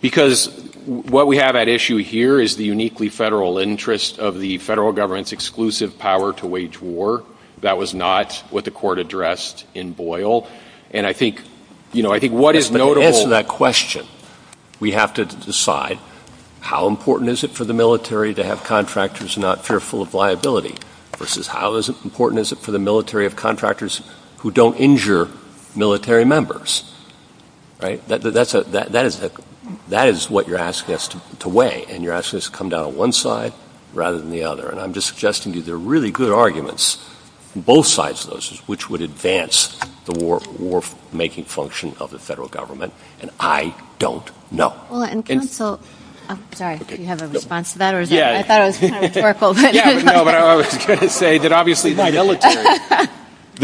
Because what we have at issue here is the uniquely federal interest of the federal government's exclusive power to wage war. That was not what the court addressed in Boyle. And I think to answer that question, we have to decide how important is it for the military to have contractors not fearful of liability versus how important is it for the military of contractors who don't injure military members? That is what you're asking us to weigh. And you're asking us to come down on one side rather than the other. And I'm just suggesting these are really good arguments on both sides of those, which would advance the war-making function of the federal government. And I don't know. The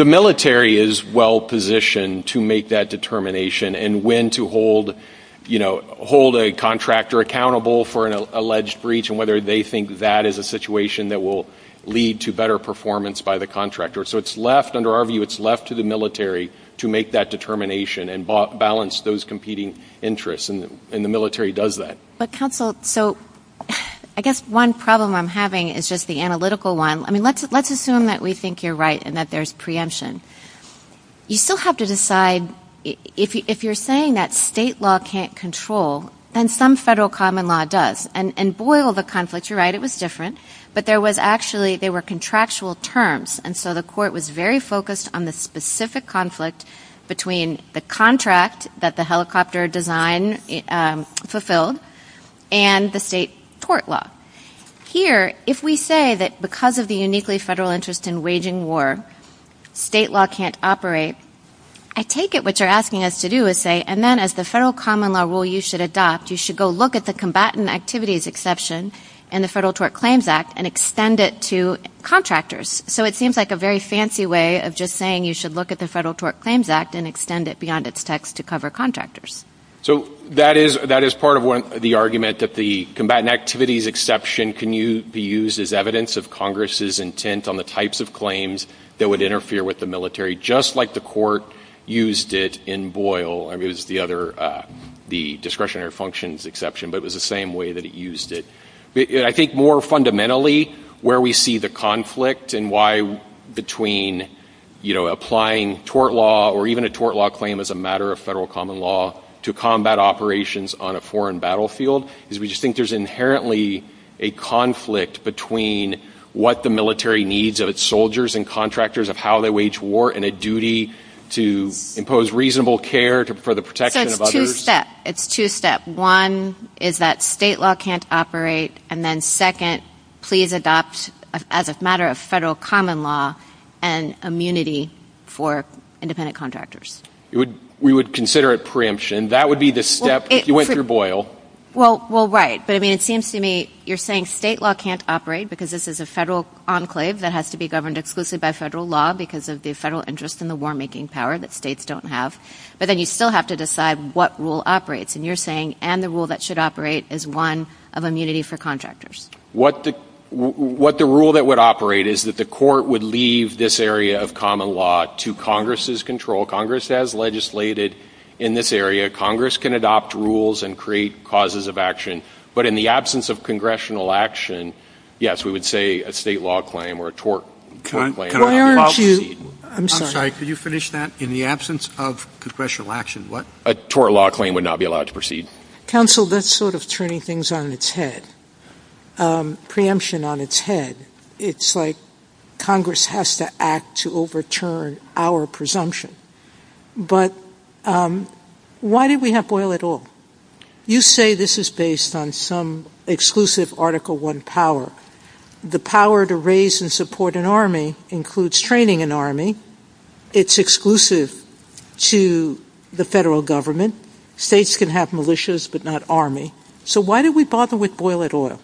military is well-positioned to make that determination and when to hold a contractor accountable for an alleged breach and whether they think that is a situation that will lead to better performance by the contractor. So it's left, under our view, it's left to the military to make that determination and balance those competing interests. And the military does that. But counsel, so I guess one problem I'm having is just the analytical one. I mean, let's assume that we think you're right and that there's preemption. You still have to decide if you're saying that state law can't control, then some federal common law does. And Boyle, the conflict, you're right, it was different. But there was actually, they were contractual terms. And so the court was very focused on the specific conflict between the contract that the helicopter design fulfilled and the state tort law. Here, if we say that because of the uniquely federal interest in waging war, state law can't operate, I take it what you're asking us to do is say, and then as the federal common law rule you should adopt, you should go look at the combatant activities exception in the Federal Tort Claims Act and extend it to contractors. So it seems like a very fancy way of just saying you should look at the Federal Tort Claims Act and extend it beyond its text to cover contractors. So that is part of the argument that the combatant activities exception can be used as evidence of Congress's intent on the types of claims that would interfere with the military, just like the court used it in Boyle. It was the other, the discretionary functions exception, but it was the same way that it used it. I think more fundamentally where we see the conflict and why between applying tort law or even a tort law claim as a matter of federal common law to combat operations on a foreign battlefield is we just think there's inherently a conflict between what the military needs of its soldiers and contractors of how they wage war and a duty to impose reasonable care for the protection of others. It's two-step. One is that state law can't operate and then second, please adopt as a matter of federal common law an immunity for independent contractors. We would consider it preemption. That would be the step if you went through Boyle. It seems to me you're saying state law can't operate because this is a federal enclave that has to be governed exclusively by federal law because of the federal interest in the war-making power that states don't have. But then you still have to decide what rule operates and you're saying and the rule that should operate is one of immunity for contractors. What the rule that would operate is that the court would leave this area of common law to Congress's control. Congress has legislated in this area. Congress can adopt rules and create causes of action but in the absence of congressional action, yes, we would say a state law claim or a tort claim. Why aren't you... I'm sorry, could you finish that? In the absence of congressional action, what... A tort law claim would not be allowed to proceed. Counsel, that's sort of turning things on its head. Preemption on its head. It's like Congress has to act to overturn our presumption. But why did we have Boyle at all? You say this is based on some exclusive Article I power. The power to raise and support an army includes training an army. It's exclusive to the federal government. States can have militias but not army. So why did we bother with Boyle at all?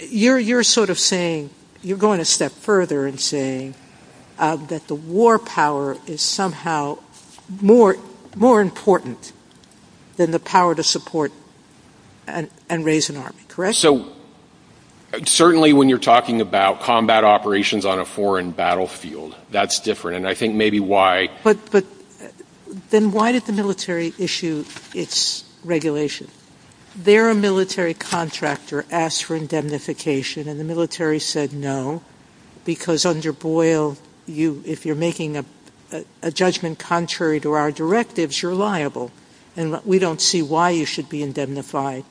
You're sort of saying, you're going a step further and saying that the war power is somehow more important than the power to support and raise an army, correct? Certainly when you're talking about combat operations on a foreign battlefield, that's different, and I think maybe why... Then why did the military issue its regulation? Their military contractor asked for indemnification, and the military said no, because under Boyle if you're making a judgment contrary to our directives, you're liable. We don't see why you should be indemnified.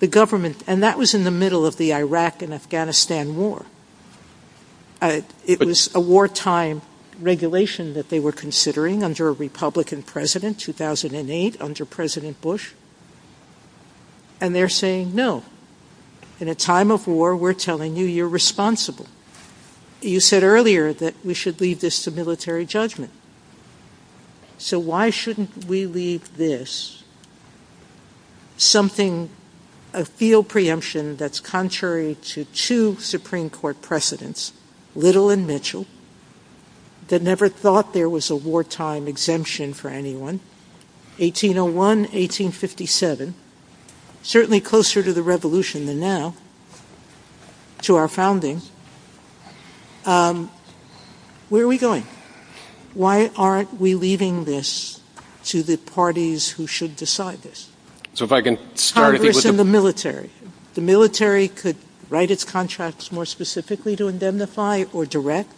And that was in the middle of the Iraq and Afghanistan war. It was a wartime regulation that they were considering under a Republican president, 2008, under President Bush, and they're saying no. In a time of war, we're telling you you're responsible. You said earlier that we should leave this to military judgment. So why shouldn't we leave this something... a field preemption that's contrary to two Supreme Court precedents, Little and Mitchell, that never thought there was a wartime exemption for anyone, 1801, 1857, certainly closer to the revolution than now, to our founding. Where are we going? Why aren't we leaving this to the parties who should decide this? Congress and the military. The military could write its contracts more specifically to indemnify or direct.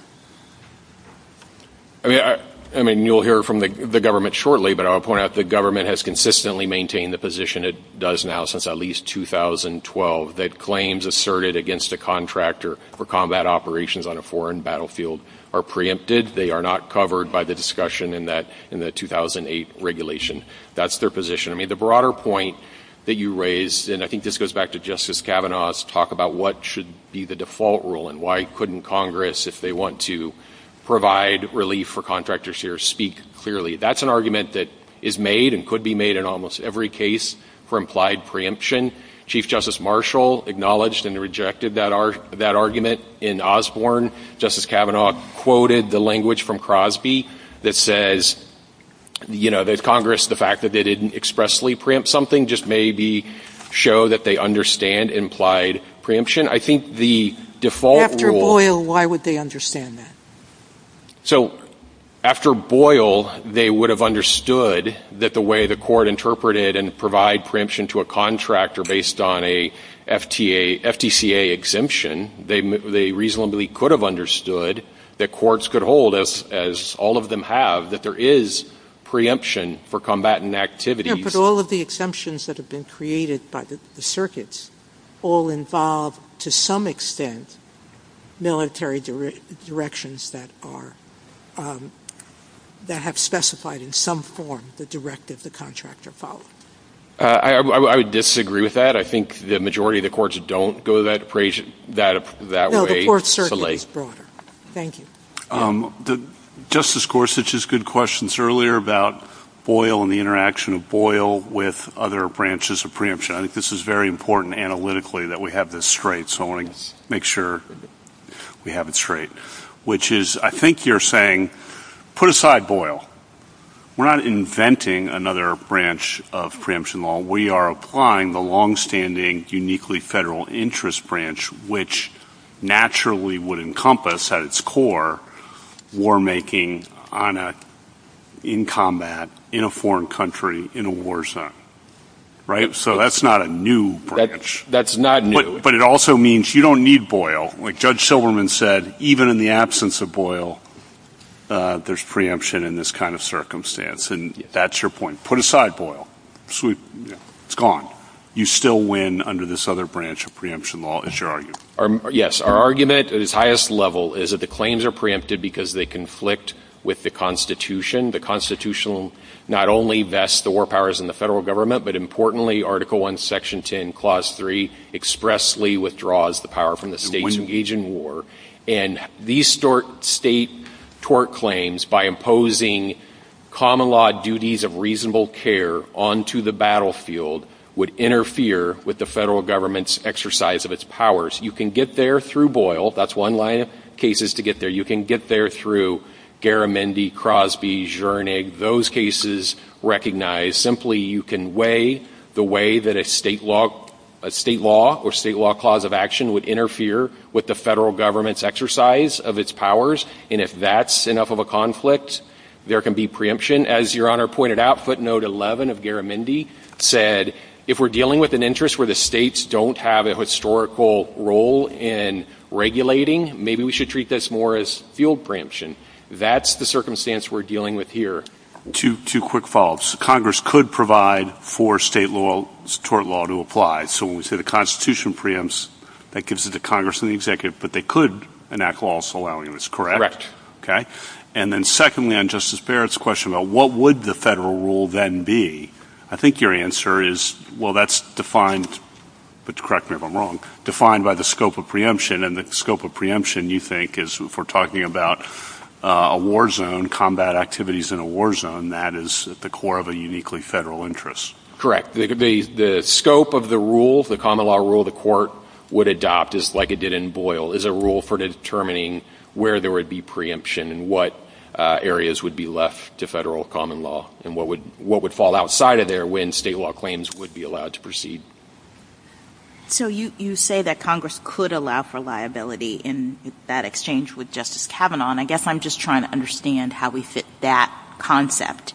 I mean, you'll hear from the government shortly, but I'll point out the government has consistently maintained the position it does now since at least 2012, that claims asserted against a contractor for combat operations on a foreign battlefield are preempted. They are not covered by the discussion in the 2008 regulation. That's their position. I mean, the broader point that you raised, and I think this goes back to Justice Kavanaugh's talk about what should be the default rule and why couldn't Congress, if they want to provide relief for contractors here, speak clearly. That's an argument that is made and could be made in almost every case for implied preemption. Chief Justice Marshall acknowledged and rejected that argument in Osborne. Justice Kavanaugh quoted the language from Crosby that says, you know, that Congress, the fact that they didn't expressly preempt something, just maybe show that they understand implied preemption. I think the default rule... After Boyle, why would they understand that? So, after Boyle, they would have understood that the way the court interpreted and provide preemption to a contractor based on a FTA, FTCA exemption, they reasonably could have understood that courts could hold, as all of them have, that there is preemption for combatant activities. Yeah, but all of the exemptions that have been created by the circuits all involve, to some extent, military directions that are... that have specified in some form the directive the contractor followed. I would disagree with that. I think the majority of the courts don't go that way. No, the court circuit is broader. Thank you. Justice Gorsuch has good questions earlier about Boyle and the interaction of Boyle with other branches of preemption. I think this is very important analytically that we have this straight, so I want to make sure we have it straight. Which is, I think you're saying, put aside Boyle. We're not inventing another branch of preemption law. We are applying the long-standing uniquely federal interest branch, which naturally would encompass, at its core, war making in combat in a foreign country in a war zone. Right? So that's not a new branch. That's not new. But it also means you don't need Boyle. Like Judge Silverman said, even in the absence of Boyle, there's preemption in this kind of circumstance, and that's your point. Put aside Boyle. It's gone. You still win under this other branch of preemption law, is your argument. Yes. Our argument, at its highest level, is that the claims are preempted because they conflict with the Constitution. The Constitution not only vests the war powers in the federal government, but importantly, Article I, Section 10, Clause 3, expressly withdraws the power from the states engaged in war. And these state tort claims, by imposing common law duties of reasonable care onto the battlefield, would interfere with the federal government's exercise of its powers. You can get there through Boyle. That's one line of cases to get there. You can get there through Garamendi, Crosby, Zschernig. Those cases recognize simply you can weigh the way that a state law or state law clause of action would interfere with the federal government's exercise of its powers. And if that's enough of a conflict, there can be preemption. As Your Honor pointed out, footnote 11 of Garamendi said, if we're dealing with an interest where the states don't have a historical role in regulating, maybe we should treat this more as field preemption. That's the circumstance we're dealing with here. Two quick follow-ups. Congress could provide for state law, tort law, to apply. So when we say the Constitution preempts, that gives it to Congress and the executive, but they could enact laws allowing this, correct? Correct. And then secondly, on Justice Barrett's question about what would the federal rule then be, I think your answer is, well, that's defined by the scope of preemption, and the scope of preemption you think is, if we're talking about a war zone, combat activities in a war zone, that is at the core of a uniquely federal interest. Correct. The scope of the rule, the common law rule the court would adopt, just like it did in Boyle, is a rule for determining where there would be preemption and what areas would be left to federal common law and what would fall outside of there when state law claims would be allowed to proceed. So you say that Congress could allow for liability in that exchange with Justice Kavanaugh, and I guess I'm just trying to understand how we fit that concept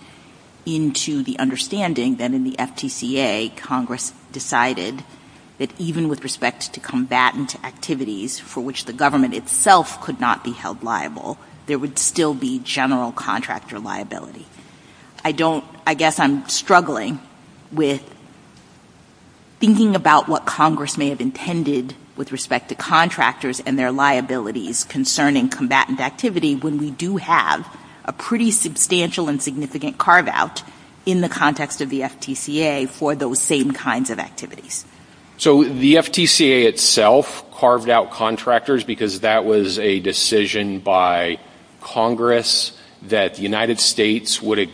into the understanding that in the FTCA, Congress decided that even with respect to combatant activities for which the government itself could not be held liable, there would still be general contractor liability. I don't, I guess I'm struggling with thinking about what Congress may have intended with respect to contractors and their liabilities concerning combatant activity when we do have a pretty substantial and significant carve-out in the context of the FTCA for those same kinds of activities. So the FTCA itself carved out contractors because that was a decision by Congress that the United States would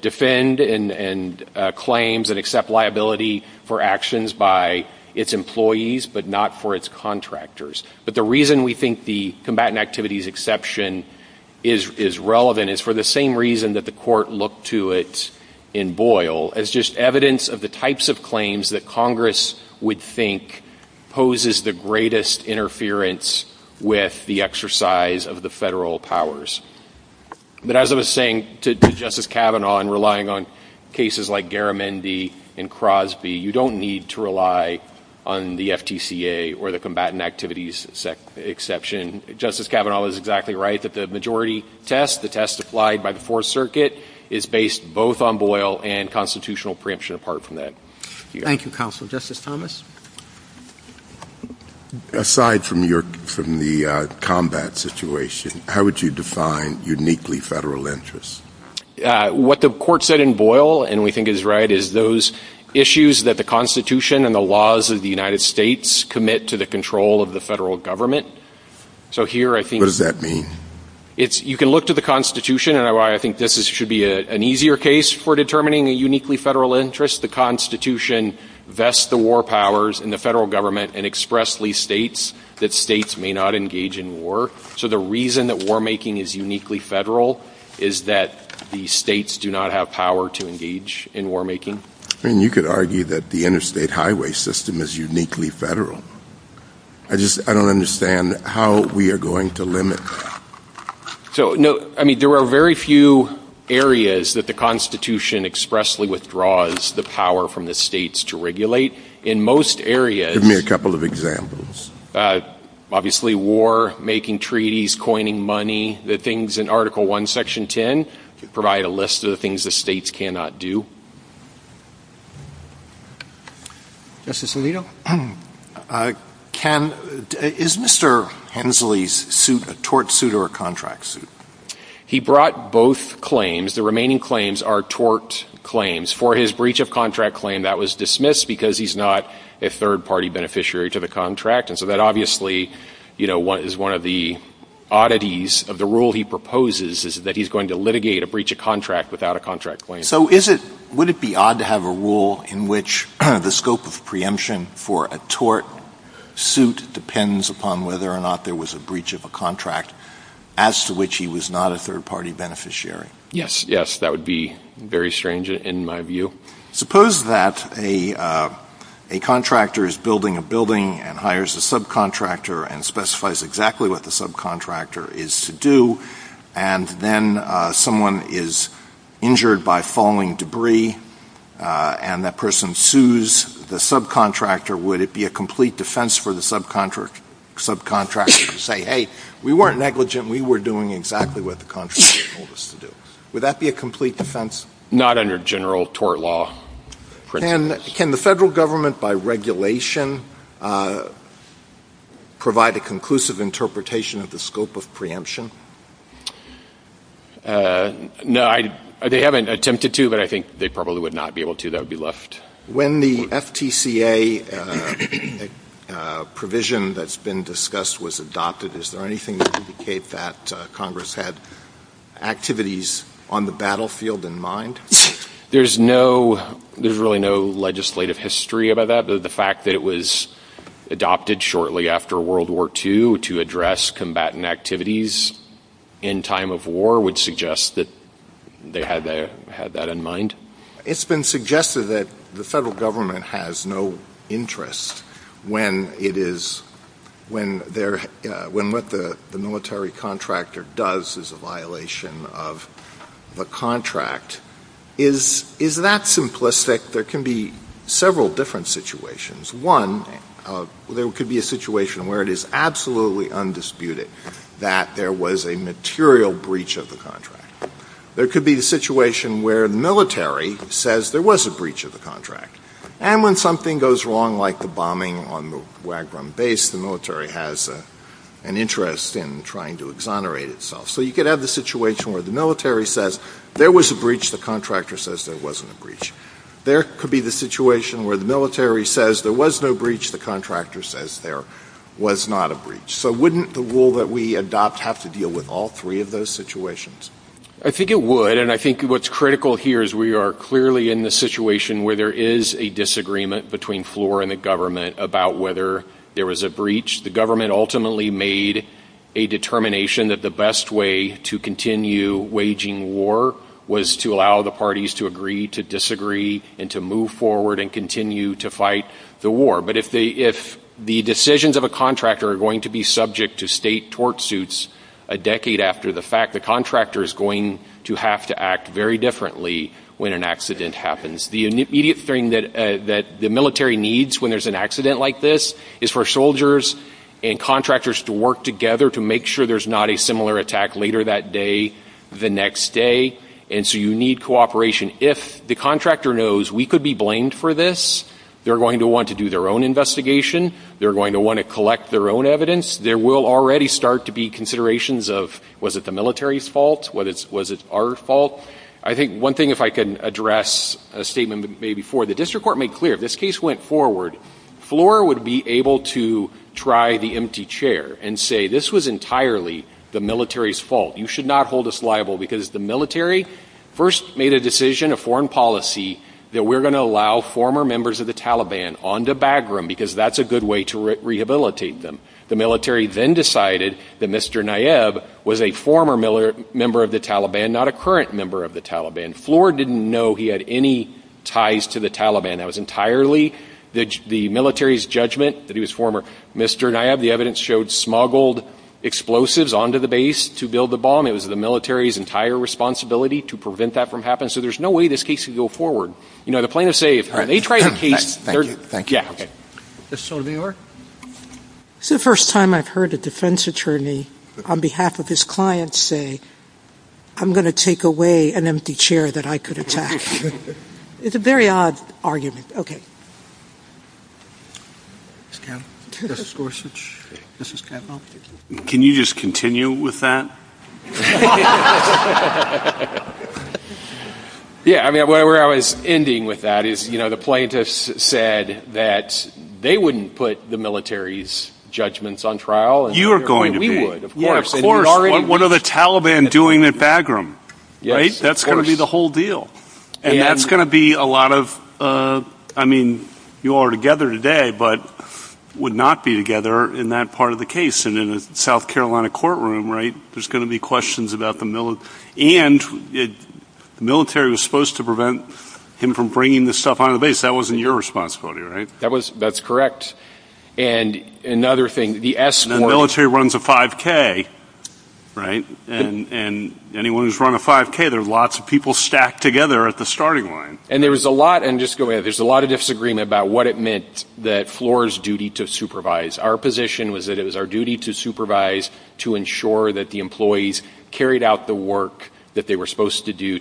defend and claims and accept liability for actions by its employees but not for its contractors. But the reason we think the combatant activities exception is relevant is for the same reason that the court looked to it in Boyle, as just evidence of the types of claims that Congress would think poses the greatest interference with the exercise of the federal powers. But as I was saying to Justice Kavanaugh in relying on cases like Garamendi and Crosby, you don't need to rely on the FTCA or the combatant activities exception. Justice Kavanaugh is exactly right that the majority test, the test applied by the Fourth Circuit, is based both on Boyle and constitutional preemption apart from that. Thank you, Counsel. Justice Thomas? from the combat situation, how would you define uniquely federal interests? What the court said in Boyle, and we think he's right, is those issues that the Constitution and the laws of the United States commit to the control of the federal government. So here I think... What does that mean? You can look to the Constitution, and I think this should be an easier case for determining a uniquely federal interest. The Constitution vests the war powers in the federal government and expressly states that states may not engage in war. So the reason that war making is uniquely federal is that the states do not have power to engage in war making. And you could argue that the interstate highway system is uniquely federal. I just... I don't understand how we are going to limit... I mean, there are very few areas that the Constitution expressly withdraws the power from the states to regulate. In most areas... Give me a couple of examples. Obviously war, making treaties, coining money, the things in Article 1, Section 10, provide a list of the things the states cannot do. Justice Alito? Can... Is Mr. Hensley's claim a tort suit or a contract suit? He brought both claims. The remaining claims are tort claims. For his breach of contract claim, that was dismissed because he's not a third-party beneficiary to the contract. And so that obviously, you know, is one of the oddities of the rule he proposes, is that he's going to litigate a breach of contract without a contract claim. So is it... Would it be odd to have a rule in which the scope of preemption for a tort suit depends upon whether or not there was a breach of a contract, as to which he was not a third-party beneficiary? Yes, yes. That would be very strange in my view. Suppose that a contractor is building a building and hires a subcontractor and specifies exactly what the subcontractor is to do, and then someone is injured by falling debris, and that person sues the subcontractor. Would it be a complete defense for the subcontractor to say, hey, we weren't negligent, we were doing exactly what the contractor told us to do? Would that be a complete defense? Not under general tort law. Can the federal government, by regulation, provide a conclusive interpretation of the scope of preemption? No, I... They haven't attempted to, but I think they probably would not be able to. That would be left... When the FTCA provision that's been discussed was adopted, is there anything to indicate that Congress had activities on the battlefield in mind? There's no... There's really no legislative history about that. The fact that it was adopted shortly after World War II to address combatant activities in time of war would suggest that they had that in mind. And it's been suggested that the federal government has no interest when it is... When what the military contractor does is a violation of the contract. Is that simplistic? There can be several different situations. One, there could be a situation where it is absolutely undisputed that there was a material breach of the contract. There could be a situation where the military says there was a breach of the contract. And when something goes wrong, like the bombing on the Wagram base, the military has an interest in trying to exonerate itself. So you could have the situation where the military says there was a breach, the contractor says there wasn't a breach. There could be the situation where the military says there was no breach, the contractor says there was not a breach. So wouldn't the rule that we adopt have to apply to all three of those situations? I think it would. And I think what's critical here is we are clearly in the situation where there is a disagreement between FLOR and the government about whether there was a breach. The government ultimately made a determination that the best way to continue waging war was to allow the parties to agree to disagree and to move forward and continue to fight the war. But if the decisions of a contractor are going to be made, the military is going to have to act very differently when an accident happens. The immediate thing that the military needs when there's an accident like this is for soldiers and contractors to work together to make sure there's not a similar attack later that day, the next day. And so you need cooperation. If the contractor knows we could be blamed for this, they're going to want to do their own investigation. They're going to want to collect their own evidence. They will already start to be considerations of was it the military's fault? Was it our fault? I think one thing if I can address a statement before, the district court made clear, this case went forward, FLOR would be able to try the empty chair and say this was entirely the military's fault. You should not hold us liable because the military first made a decision, a foreign policy, that we're going to allow former members of the Taliban onto Bagram because that's a good way to rehabilitate them. The military then decided that Mr. Nayib was a former member of the Taliban, not a current member of the Taliban. FLOR didn't know he had any ties to the Taliban. That was entirely the military's judgment that he was former. Mr. Nayib, the evidence showed smuggled explosives onto the base to build the bomb. It was the military's entire responsibility to prevent that from happening. So there's no way this case could go forward. You know, the plaintiffs say if they try the case... It's the first time I've heard a defense attorney on behalf of his client say, I'm going to take away an empty chair that I could attack. It's a very odd argument. Okay. Can you just continue with that? Yeah, I mean, where I was ending with that is, you know, the plaintiffs said that the military was supposed to prevent They said that they wouldn't put the military's judgments on trial. You're going to do it. Of course. What are the Taliban doing at Bagram? Right? That's going to be the whole deal. And that's going to be a lot of... I mean, you all are together today, but would not be together in that part of the case. And in the South Carolina case, it was the military's responsibility, right? That's correct. And another thing... The military runs a 5K, right? And anyone who's run a 5K, there are lots of people stacked together at the starting line. And there was a lot... And just go ahead. There's a lot of disagreement about what it meant that floor's duty to supervise. Our position was that it was our duty to supervise to ensure that the employees carried out the work that they were supposed to do,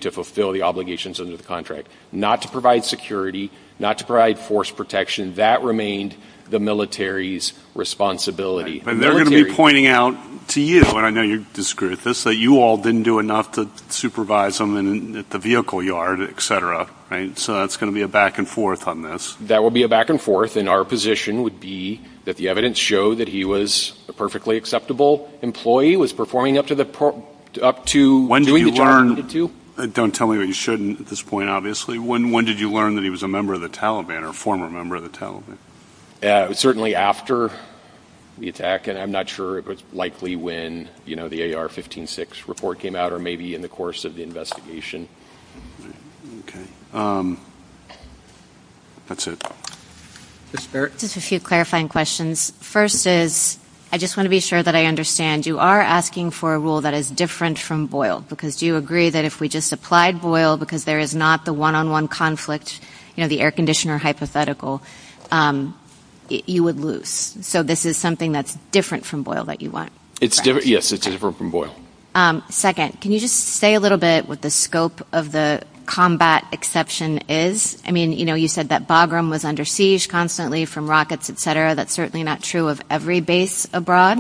not to provide security, not to provide force protection. That remained the military's responsibility. And they're going to be pointing out to you, and I know you disagree with this, that you all didn't do enough to supervise them at the vehicle yard, et cetera, right? So it's going to be a back and forth on this. That will be a back and forth. And our position would be that the evidence showed that he was a perfectly acceptable employee, was performing up to... When did you learn... Don't tell me that you shouldn't at this point, obviously. When did you learn that he was a member of the Taliban, or a former member of the Taliban? Yeah, certainly after the attack, and I'm not sure it was likely when, you know, the AR-15-6 report came out, or maybe in the course of the investigation. Okay. That's it. Ms. Burt? Just a few clarifying questions. First is, I just want to be sure that I understand, you are asking for a rule that is different from Boyle, because do you agree that if we just applied Boyle, because there is not the one-on-one conflict, you know, the air conditioner hypothetical, you would lose? So this is something that's different from Boyle that you want? It's different, yes, it's different from Boyle. Second, can you just say a little bit what the scope of the combat exception is? I mean, you know, you said that Bagram was under siege constantly from rockets, et cetera. That's certainly not true of every base abroad,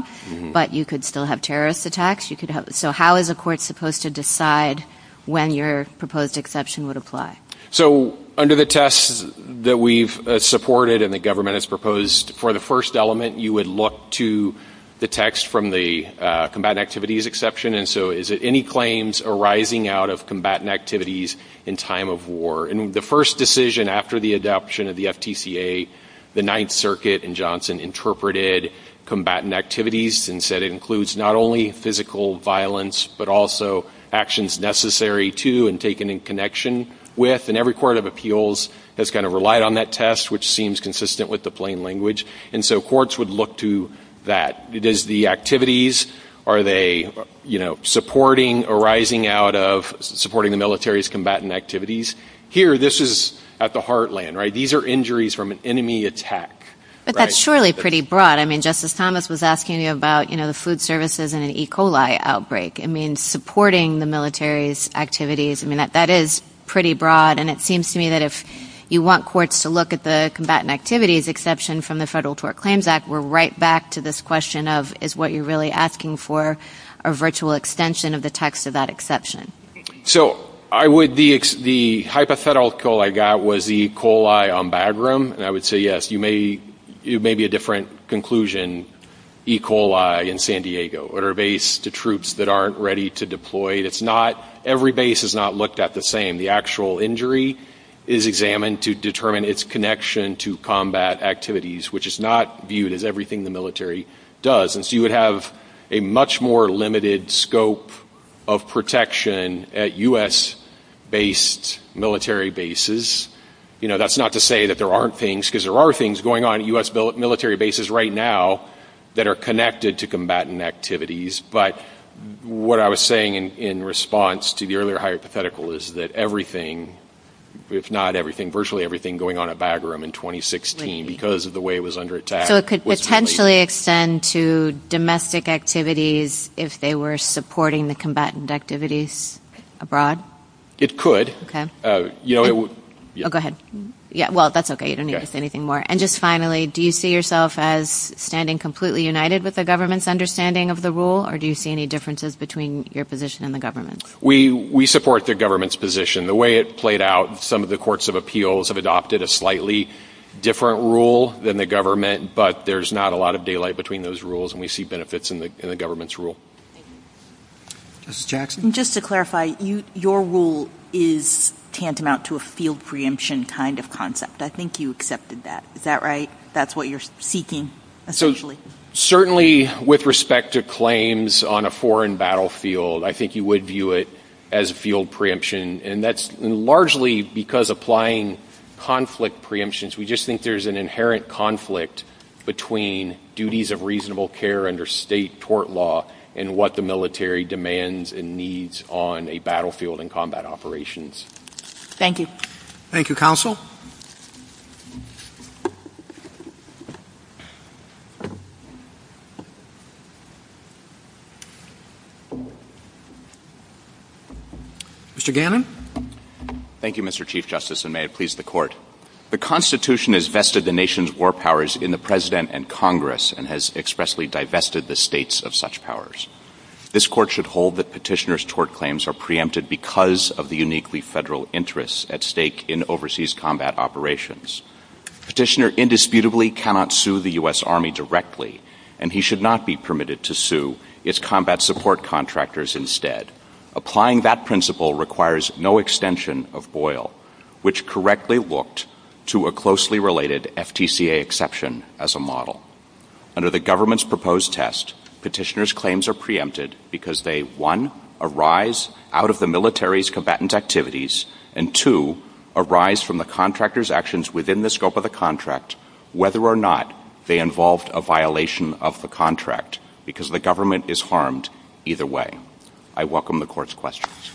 but you could still have terrorist attacks. So how is the court supposed to decide when your proposed exception would apply? So, under the tests that we've supported and the government has proposed, for the first element, you would look to the text from the combatant activities exception, and so is it any claims arising out of combatant activities in time of war? And the first decision after the adoption of the FTCA, the Ninth Circuit in Johnson interpreted combatant activities and said it includes not only physical violence, but also actions necessary to and taken in connection with, and every court of appeals has kind of relied on that test which seems consistent with the plain language, and so courts would look to that. Does the activities, are they, you know, supporting arising out of supporting the military's combatant activities? Here, this is at the heartland, right? These are injuries from an enemy attack. But that's surely pretty broad. I mean, Justice Thomas was asking you about, you know, food services and an E. coli outbreak. It means supporting the military's activities. I mean, that is pretty broad, and it seems to me that if you want courts to look at the combatant activities exception from the Federal Tort Claims Act, we're right back to this question of, is what you're really asking for a virtual extension of the text of that exception? So, I would, the hypothetical I got was E. coli on Bagram, and I would say, yes, you may be a different conclusion. E. coli in San Diego, or a base to troops that aren't ready to deploy. It's not, every base is not looked at the same. The actual injury is examined to determine its connection to combat activities, which is not viewed as everything the military does. And so you would have a much more limited scope of protection at U.S. based military bases. You know, that's not to say that there aren't things, because there are things going on at U.S. military bases right now that are connected to combatant activities, but what I was saying in response to the earlier hypothetical is that everything, if not everything, virtually everything going on at Bagram in 2016 because of the way it was under attack. So it could potentially extend to domestic activities if they were supporting the combatant activities abroad? It could. Go ahead. Well, that's okay. You don't need to say anything more. And just finally, do you see yourself as standing completely united with the government's understanding of the rule, or do you see any differences between your position and the government's? We support the government's position. The way it played out, some of the courts of appeals have adopted a slightly different rule than the government, but there's not a lot of daylight between those rules, and we see benefits in the government's rule. Justice Jackson? Just to clarify, your rule is tantamount to a field preemption kind of concept. I think you accepted that. Is that right? That's what you're seeking, essentially? Certainly, with respect to claims on a foreign battlefield, I think you would view it as field preemption, and that's largely because applying conflict preemptions, we just think there's an inherent conflict between duties of reasonable care under state tort law and what the military demands and needs on a battlefield and combat operations. Thank you. Thank you, Counsel. Mr. Gannon? Thank you, Mr. Chief Justice, and may it please the Court. The Constitution has vested the nation's war powers in the President and Congress and has expressly divested the states of such powers. This Court should hold that petitioners' tort claims are preempted because of the uniquely federal interests at stake in overseas combat operations. Petitioner indisputably cannot sue the U.S. Army directly, and he should not be permitted to sue its combat support contractors instead. Applying that principle requires no extension of Boyle, which correctly looked to a closely related FTCA exception as a model. Under the government's proposed test, petitioner's claims are preempted because they, one, arise out of the military's combatant activities, and two, arise from the contractor's actions within the scope of the contract, whether or not they involved a violation of the contract, because the government is harmed either way. I welcome the Court's questions.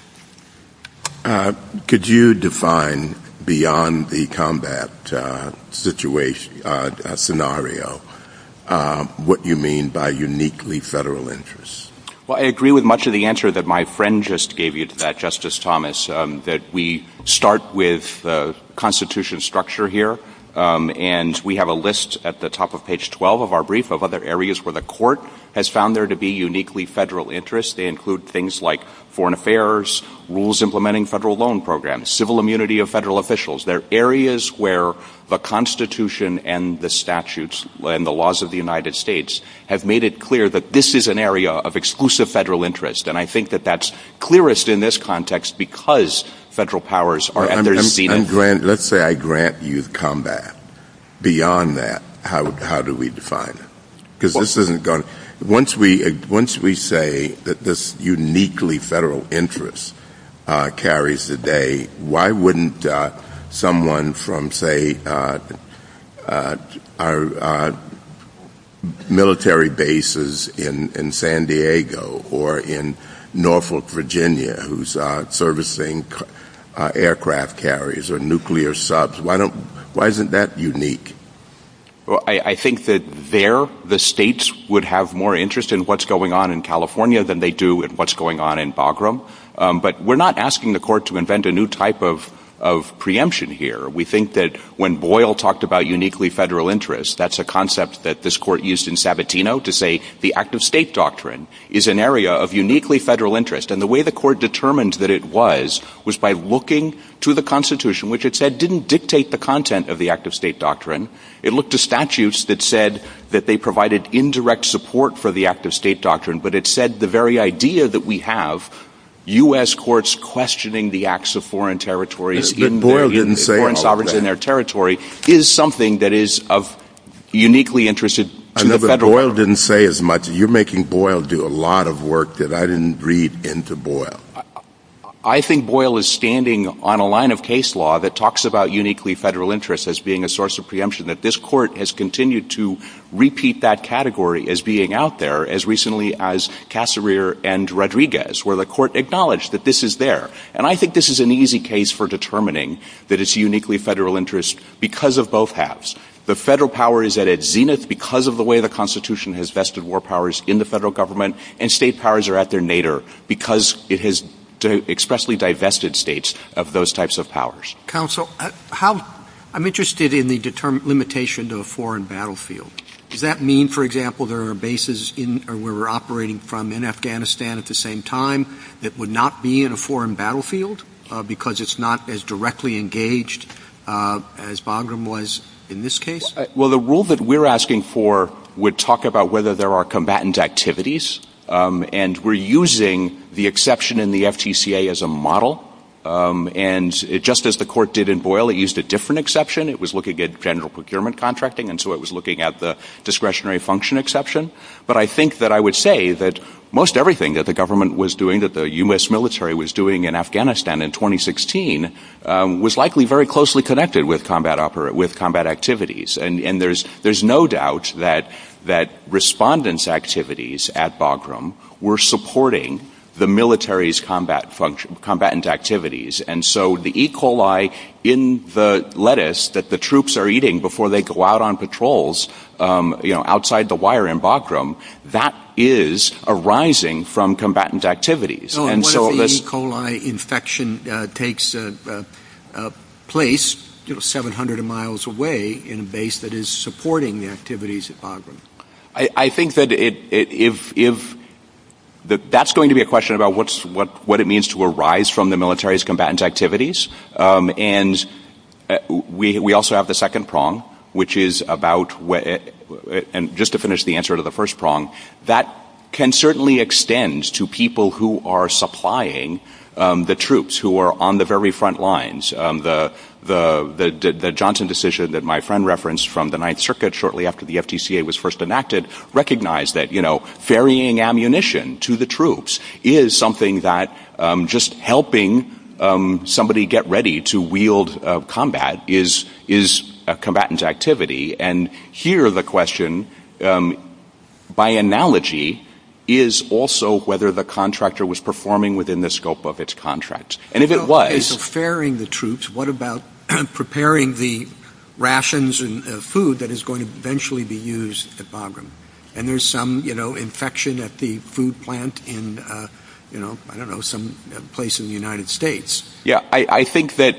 Could you define beyond the combat scenario what you mean by uniquely federal interests? Well, I agree with much of the answer that my friend just gave you to that, Justice Thomas, that we start with the Constitution structure here, and we have a list at the top of page 12 of our brief of other areas where the Court has found there to be uniquely federal interests. They include things like foreign affairs, rules implementing federal loan programs, civil immunity of federal officials. They're areas where the Constitution and the statutes and the laws of the United States have made it clear that this is an area of exclusive federal interest, and I think that that's clearest in this context because federal powers are at the receiving end. Let's say I grant you combat. Beyond that, how do we define it? Because this isn't going to... Once we say that this uniquely federal interest carries the day, why wouldn't someone from, say, our military bases in San Diego or in Norfolk, Virginia, whose servicing aircraft carries or nuclear subs, why isn't that unique? Well, I think that there the states would have more interest in what's going on in California than they do at what's going on in Bagram, but we're not asking the court to invent a new type of preemption here. We think that when Boyle talked about uniquely federal interest, that's a concept that this court used in Sabatino to say the act of state doctrine is an area of uniquely federal interest, and the way the court determined that it was was by looking to the Constitution, which it said didn't dictate the content of the act of state doctrine. It looked to statutes that said that they provided indirect support for the act of state doctrine, but it said the very idea that we have, U.S. courts questioning the acts of foreign territories, foreign sovereigns in their territory, is something that is uniquely interested to the federal law. You're making Boyle do a lot of work that I didn't read into Boyle. I think Boyle is standing on a line of case law that talks about uniquely federal interest as being a source of preemption, that this court has continued to repeat that category as being out there as recently as Cassereer and Rodriguez, where the court acknowledged that this is there. And I think this is an easy case for determining that it's uniquely federal interest because of both halves. The federal power is at its zenith because of the way the Constitution has vested war powers in the federal government, and state powers are at their nadir because it has expressly divested states of those types of powers. Counsel, I'm interested in the limitation to the foreign battlefield. Does that mean, for example, there are bases where we're operating from in Afghanistan at the same time that would not be in a foreign battlefield because it's not as directly engaged as Bagram was in this case? Well, the rule that we're asking for would talk about whether there are combatant activities, and we're using the exception in the FTCA as a model, and just as the court did in Boyle, it used a different exception. It was looking at general procurement contracting, and so it was looking at the discretionary function exception, but I think that I would say that most everything that the government was doing, that the U.S. military was doing in Afghanistan in 2016 was likely very closely connected with combat activities, and there's no doubt that respondents' activities at Bagram were supporting the military's combatant activities, and so the E. coli in the lettuce that the troops are eating before they go out on patrols outside the wire in Bagram, that is arising from combatant activities. Well, what if the E. coli infection takes place 700 miles away in a base that is supporting the activities at Bagram? I think that if that's going to be a question about what it means to arise from the military's combatant activities, and we also have the second prong, which is about, and just to finish the answer to the first prong, that can certainly extend to people who are supplying the troops who are on the very front lines. The Johnson decision that my friend referenced from the Ninth Circuit shortly after the FTCA was first enacted recognized that, you know, ferrying ammunition to the troops is something that just helping somebody get ready to wield combat is a combatant's activity, and here the question, by analogy, is also whether the contractor was performing within the scope of its contracts. And if it was... So, ferrying the troops, what about preparing the rations and food that is going to eventually be used at Bagram? And there's some, you know, infection at the food plant in, you know, I don't know, someplace in the United States. Yeah, I think that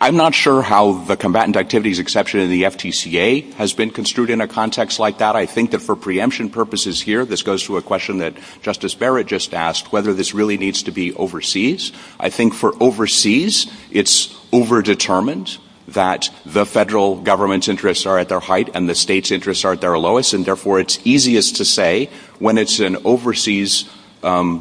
I'm not sure how the combatant activities exception in the FTCA has been construed in a context like that. I think that for preemption purposes here, this goes to a question that Justice Barrett just asked, whether this really needs to be overseas. I think for overseas, it's over-determined that the federal government's interests are at their height and the state's interests are at their lowest, and therefore it's easiest to say when it's an overseas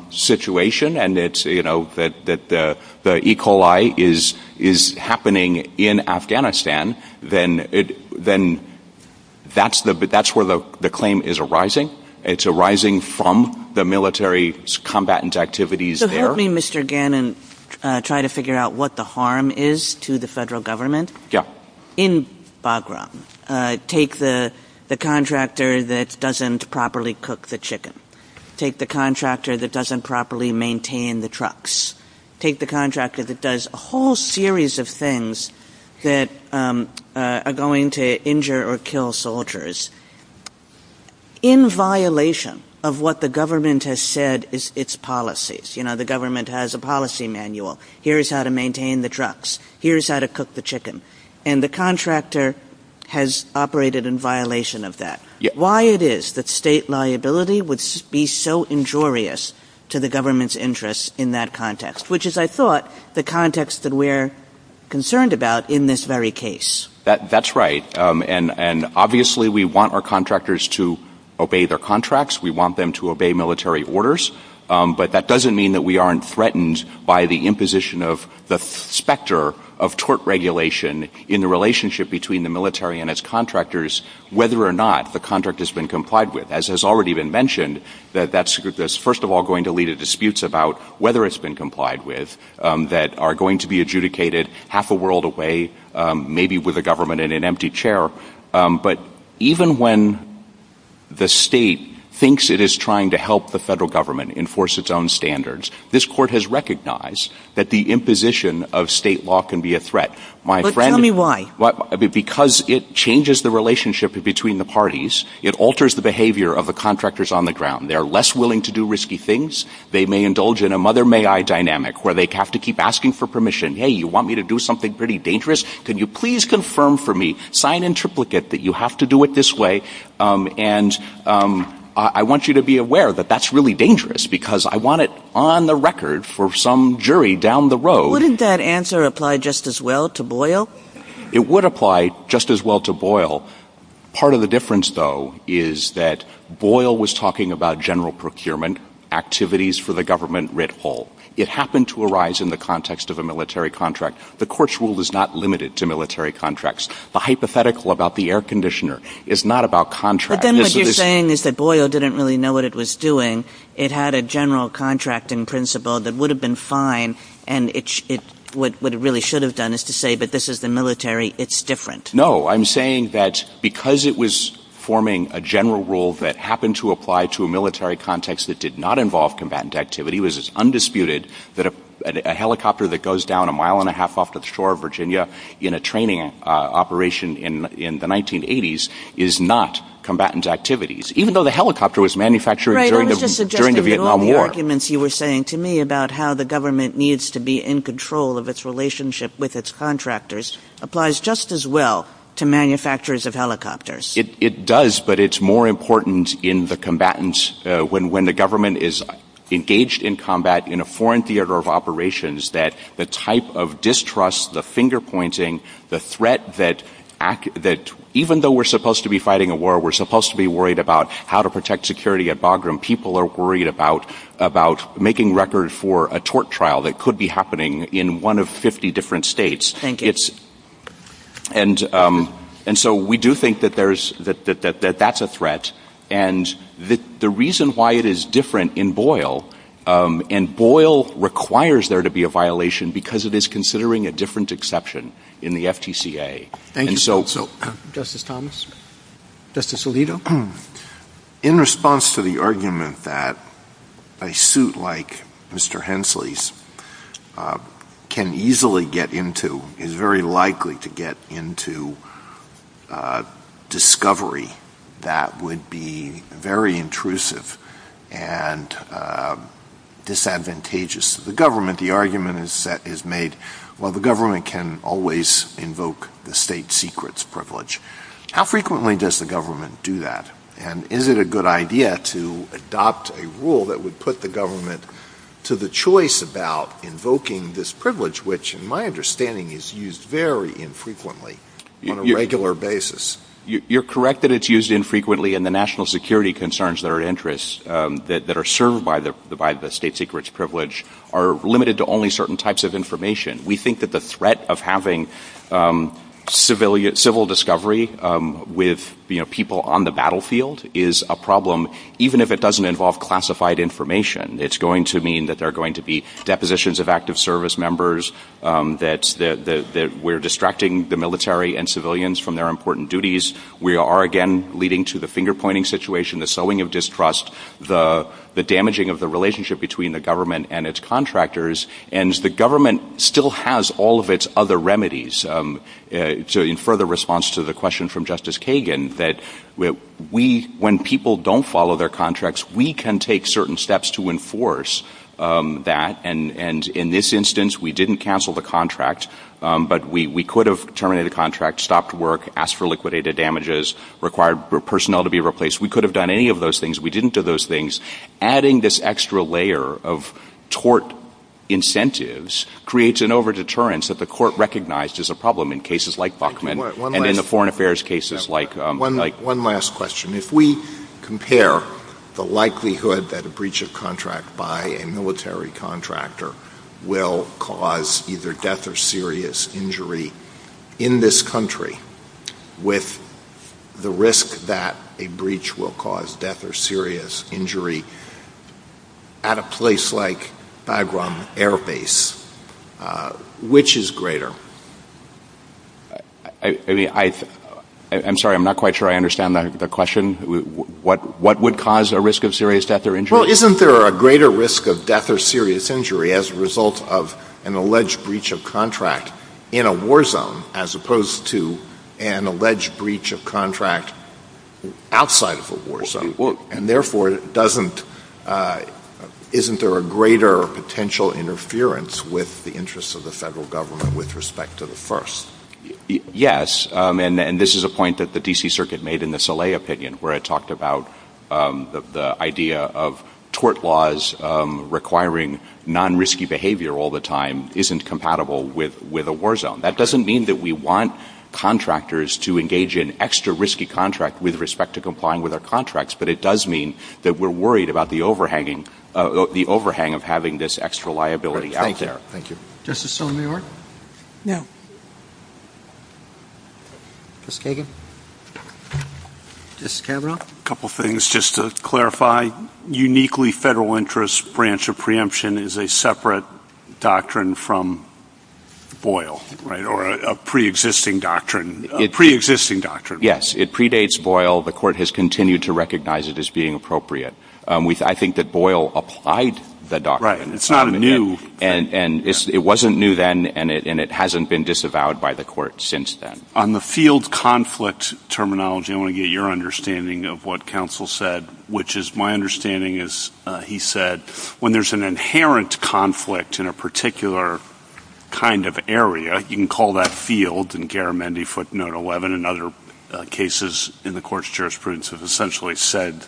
situation and it's, you know, that the E. coli is happening in Afghanistan, then that's where the claim is arising. It's arising from the military's combatant activities there. So help me, Mr. Gannon, try to figure out what the harm is to the federal government in Bagram. Take the contractor that doesn't properly cook the chicken. Take the contractor that doesn't properly maintain the trucks. Take the contractor that does a whole series of things that are going to injure or kill soldiers in violation of what the government has said is its policies. You know, the government has a policy manual. Here's how to maintain the trucks. Here's how to cook the chicken. And the contractor has operated in violation of that. Why it is that state liability would be so injurious to the government's interests in that context? Which is, I thought, the context that we're concerned about in this very case. That's right. And obviously we want our contractors to obey their contracts. We want them to obey military orders. But that doesn't mean that we aren't threatened by the imposition of the specter of tort regulation in the relationship between the military and its contractors whether or not the contract has been complied with. As has already been mentioned, that's first of all going to lead to disputes about whether it's been complied with that are going to be adjudicated half a world away, maybe with a government in an empty chair. But even when the state thinks it is trying to help the federal government enforce its own standards, this court has recognized that the imposition of state law can be a threat. But tell me why? Because it changes the relationship between the parties. It alters the behavior of the contractors on the ground. They're less willing to do risky things. They may indulge in a mother may I dynamic where they have to keep asking for permission. Hey, you want me to do something pretty dangerous? Can you please confirm for me, sign in triplicate, that you have to do it this way and I want you to be aware that that's really dangerous because I want it on the record for some jury down the road. Wouldn't that answer apply just as well to Boyle? It would apply just as well to Boyle. Part of the difference, though, is that Boyle was talking about general procurement activities for the government writ whole. It happened to arise in the context of a military contract. The court's rule is not limited to military contracts. The hypothetical about the air conditioner is not about contracts. But then what you're saying is that Boyle didn't really know what it was doing. It had a general contracting principle that would have been fine and what it really should have done is to say, but this is the military. It's different. No, I'm saying that because it was forming a general rule that happened to apply to a military context that did not involve combatant activity, it was as undisputed that a helicopter that goes down a mile and a half off the shore of Virginia in a training operation in the 1980s is not combatant activities, even though the helicopter was manufactured during the Vietnam War. You were saying to me about how the government needs to be in control of its relationship with its contractors applies just as well to manufacturers of helicopters. It does, but it's more important in the combatants when the government is engaged in combat in a foreign theater of operations that the type of distrust, the finger pointing, the threat that even though we're supposed to be fighting a war, we're supposed to be worried about how to protect security at Bagram. People are worried about making record for a tort trial that could be happening in one of 50 different states. And so we do think that that's a threat, and the reason why it is different in Boyle, and Boyle requires there to be a violation because it is considering a different exception in the FTCA. Justice Thomas? Justice Alito? In response to the argument that a suit like Mr. Hensley's can easily get into, is very likely to get into discovery that would be very intrusive and disadvantageous to the government, the argument is made, well the government can always invoke the state secrets privilege. How frequently does the government do that? And is it a good idea to adopt a rule that would put the government to the choice about invoking this privilege, which in my understanding is used very infrequently on a regular basis? You're correct that it's used infrequently, and the national security concerns that are of interest, that are served by the state secrets privilege are limited to only certain types of information. We think that the threat of having civil discovery with people on the battlefield is a problem, even if it doesn't involve classified information. It's going to mean that there are going to be depositions of active service members, that we're distracting the military and civilians from their important duties. We are again leading to the finger-pointing situation, the sowing of distrust, the damaging of the relationship between the government and its contractors, and the government still has all of its other remedies. To infer the response to the question from Justice Kagan, that when people don't follow their contracts, we can take certain steps to enforce that, and in this instance, we didn't cancel the contract, but we could have terminated the contract, stopped work, asked for liquidated damages, required personnel to be replaced. We could have done any of those things. We didn't do those things. Adding this extra layer of court incentives creates an over-deterrence that the court recognized as a problem in cases like Buckman and in the foreign affairs cases like... One last question. If we compare the likelihood that a breach of contract by a military contractor will cause either death or serious injury in this country with the risk that a breach will cause death or serious injury at a place like Bagram Air Base, which is greater? I'm sorry, I'm not quite sure I understand the question. What would cause a risk of serious death or injury? Well, isn't there a greater risk of death or serious injury as a result of an alleged breach of contract in a war zone as opposed to an alleged breach of contract outside of a war zone? And therefore, isn't there a greater potential interference with the interests of the federal government with respect to the first? Yes, and this is a point that the D.C. Circuit made in the Sallet opinion where it talked about the idea of tort laws requiring non-risky behavior all the time isn't compatible with a war zone. That doesn't mean that we want contractors to engage in extra risky contract with respect to complying with our contracts, but it does mean that we're worried about the overhang of having this extra liability out there. Thank you. Justice Sotomayor? Just a couple things just to clarify. Uniquely federal interest branch of preemption is a separate doctrine from Boyle, right, or a pre-existing doctrine. Yes, it predates Boyle. The court has continued to recognize it as being appropriate. I think that Boyle applied the doctrine. Right, it's not new. It wasn't new then, and it hasn't been disavowed by the court since then. On the field conflict terminology, I want to get your understanding of what counsel said, which is my understanding is he said when there's an inherent conflict in a particular kind of area, you can call that note 11, and other cases in the court's jurisprudence have essentially said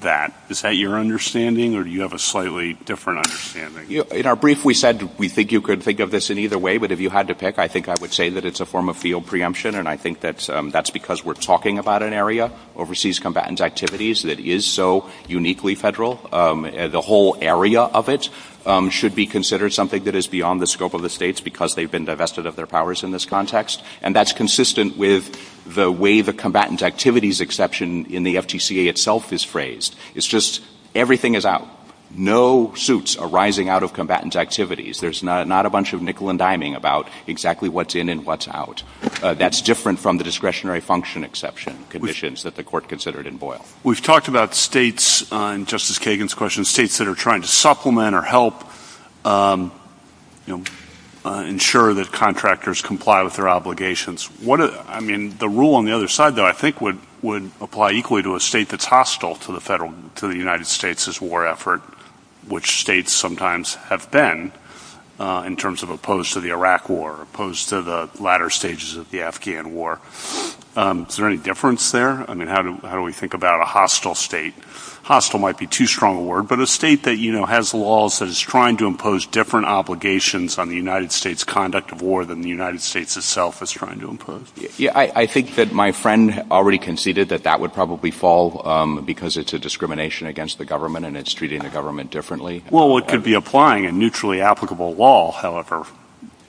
that. Is that your understanding, or do you have a slightly different understanding? In our brief, we said we think you could think of this in either way, but if you had to pick, I think I would say that it's a form of field preemption, and I think that's because we're talking about an area, overseas combatant activities, that is so uniquely federal. The whole area of it should be considered something that is beyond the scope of the states because they've been divested of their combatant activities context, and that's consistent with the way the combatant activities exception in the FTCA itself is phrased. It's just everything is out. No suits are rising out of combatant activities. There's not a bunch of nickel and diming about exactly what's in and what's out. That's different from the discretionary function exception conditions that the court considered in Boyle. We've talked about states, and Justice Kagan's question, states that are trying to supplement or help ensure that contractors comply with their obligations. The rule on the other side, though, I think would apply equally to a state that's hostile to the United States' war effort, which states sometimes have been in terms of opposed to the Iraq war, opposed to the latter stages of the Afghan war. Is there any difference there? How do we think about a hostile state? Hostile might be too strong a word, but a state that has laws that is trying to impose different obligations on the United States' conduct of war than the United States itself is trying to impose. I think that my friend already conceded that that would probably fall because it's a discrimination against the government, and it's treating the government differently. Well, it could be applying a neutrally applicable law, however.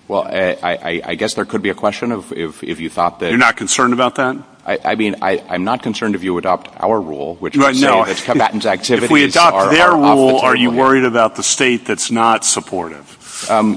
Well, I guess there could be a question of if you thought that... You're not concerned about that? I mean, I'm not concerned if you adopt our rule, which would say that combatant activities are their rule. Are you worried about the state that's not supportive?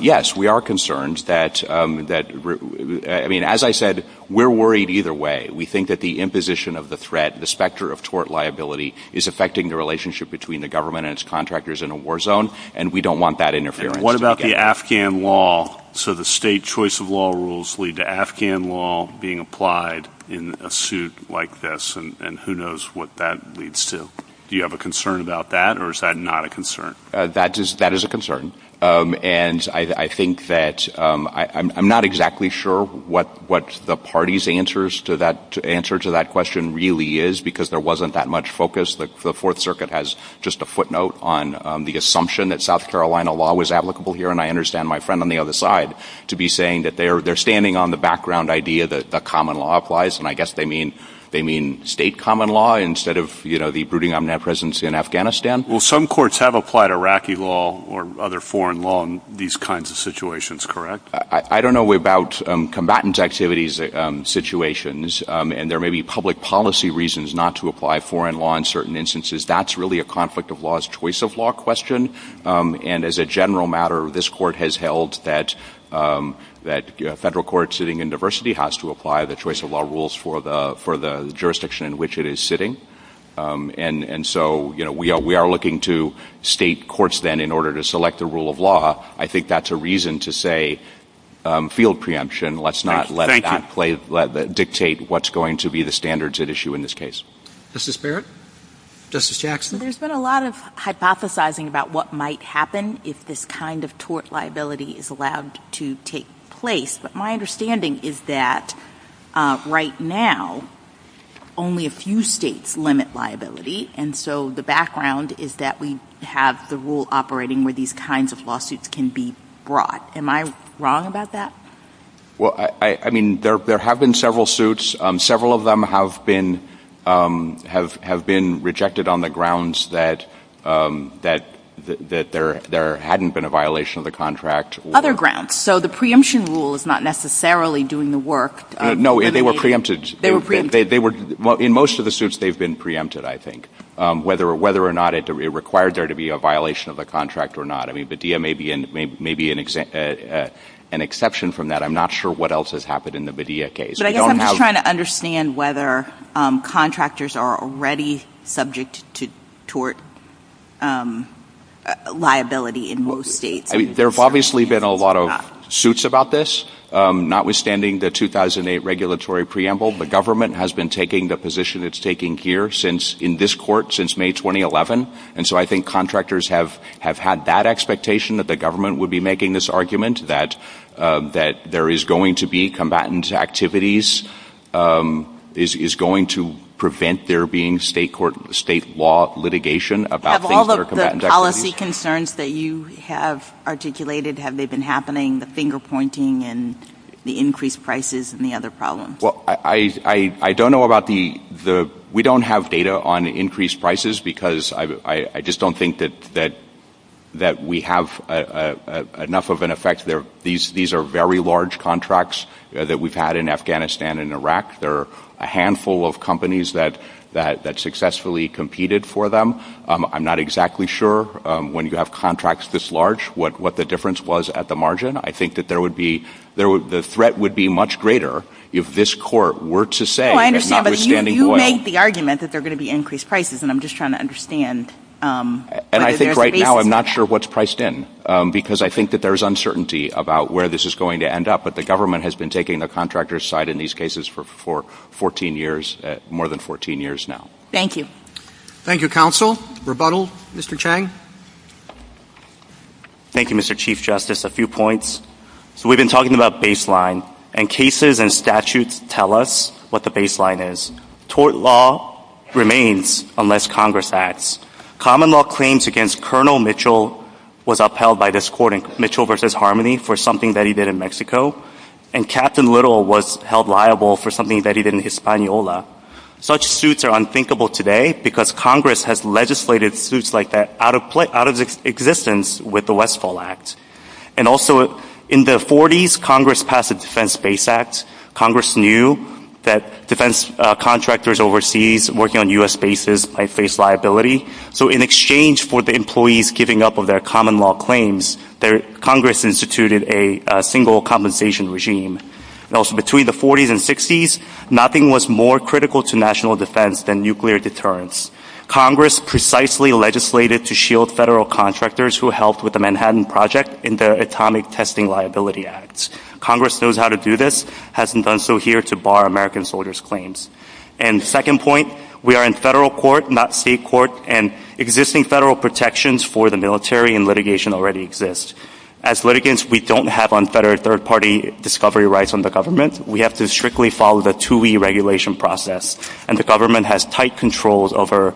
Yes, we are concerned. I mean, as I said, we're worried either way. We think that the imposition of the threat, the specter of tort liability, is affecting the relationship between the government and its contractors in a war zone, and we don't want that interference. What about the Afghan law? So the state choice of law rules lead to Afghan law being applied in a suit like this, and who knows what that would lead to. Do you have a concern about that, or is that not a concern? That is a concern, and I think that I'm not exactly sure what the party's answer to that question really is because there wasn't that much focus. The Fourth Circuit has just a footnote on the assumption that South Carolina law was applicable here, and I understand my friend on the other side to be saying that they're standing on the background idea that common law applies, and I guess they mean state common law instead of, you know, the brooding omnipresence in Afghanistan. Well, some courts have applied Iraqi law or other foreign law in these kinds of situations, correct? I don't know about combatant activities situations, and there may be public policy reasons not to apply foreign law in certain instances. That's really a conflict of laws choice of law question, and as a general matter, this court has held that federal court sitting in diversity has to apply the choice of law rules for the jurisdiction in which it is sitting, and so, you know, we are looking to state courts then in order to select the rule of law. I think that's a reason to say field preemption. Let's not let that dictate what's going to be the standards at issue in this case. Justice Barrett? Justice Jackson? There's been a lot of hypothesizing about what might happen if this kind of tort liability is allowed to take place, but my understanding is that right now, only a few states limit liability, and so the background is that we have the rule operating where these kinds of lawsuits can be brought. Am I wrong about that? Well, I mean, there have been several suits. Several of them have been rejected on the grounds that there hadn't been a violation of the contract. Other grounds. So the preemption rule is not necessarily doing the work. No, they were preempted. In most of the suits, they've been preempted, I think, whether or not it required there to be a violation of the contract or not. I mean, Bedea may be an exception from that. I'm not sure what else has happened in the Bedea case. I'm just trying to understand whether contractors are already subject to tort liability in most states. There have obviously been a lot of suits about this, notwithstanding the 2008 regulatory preamble. The government has been taking the position it's taking here since, in this court, since May 2011, and so I think contractors have had that expectation that the government would be making this argument that there is going to be combatant activities, is going to prevent there being state law litigation about things that are combatant activities. What policy concerns that you have articulated, have they been happening, the finger-pointing and the increased prices and the other problems? I don't know about the... We don't have data on increased prices because I just don't think that we have enough of an effect. These are very large contracts that we've had in Afghanistan and Iraq. There are a handful of companies that successfully competed for them. I'm not exactly sure, when you have contracts this large, what the difference was at the margin. I think the threat would be much greater if this court were to say, if notwithstanding... You make the argument that there are going to be increased prices, and I'm just trying to understand... I think right now I'm not sure what's priced in because I think that there's uncertainty about where this is going to end up, but the government has been taking the contractor's side in these cases for 14 years, more than 14 years now. Thank you. Thank you, Counsel. Rebuttal, Mr. Chang? Thank you, Mr. Chief Justice. A few points. We've been talking about baseline, and cases and statutes tell us what the baseline is. Tort law remains unless Congress acts. Common law claims against Colonel Mitchell was upheld by this court in Mitchell v. Harmony for something that he did in Mexico, and Captain Little was held accountable for something that he did in Hispaniola. Such suits are unthinkable today because Congress has legislated suits like that out of existence with the Westfall Act. And also, in the 40s, Congress passed the Defense Base Act. Congress knew that defense contractors overseas working on U.S. bases might face liability, so in exchange for the employees giving up of their common law claims, Congress instituted a single compensation regime. Also, between the 40s and 60s, nothing was more critical to national defense than nuclear deterrence. Congress precisely legislated to shield federal contractors who helped with the Manhattan Project in the Atomic Testing Liability Act. Congress knows how to do this, hasn't done so here to bar American soldiers' claims. And second point, we are in federal court, not state court, and existing federal protections for the military and litigation already exist. As litigants, we don't have unfettered third-party discovery rights on the government. We have to strictly follow the two-way regulation process, and the government has tight controls over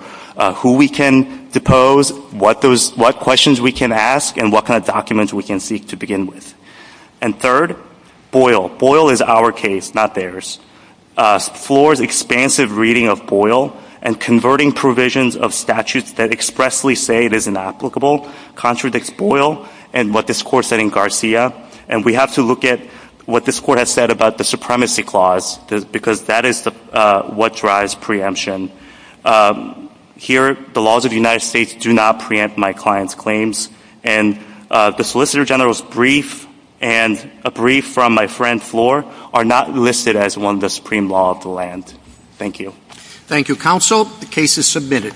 who we can depose, what questions we can ask, and what kind of documents we can seek to begin with. And third, Boyle. Boyle is our case, not theirs. Floor's expansive reading of Boyle and converting provisions of statutes that expressly say it is inapplicable contradicts Boyle and what this court said in Garcia, and we have to look at what this court has said about the supremacy clause, because that is what drives preemption. Here, the laws of the United States do not preempt my client's claims, and the Solicitor General's brief and a brief from my friend Floor are not listed as one of the supreme law of the land. Thank you. Thank you, Counsel. The case is submitted.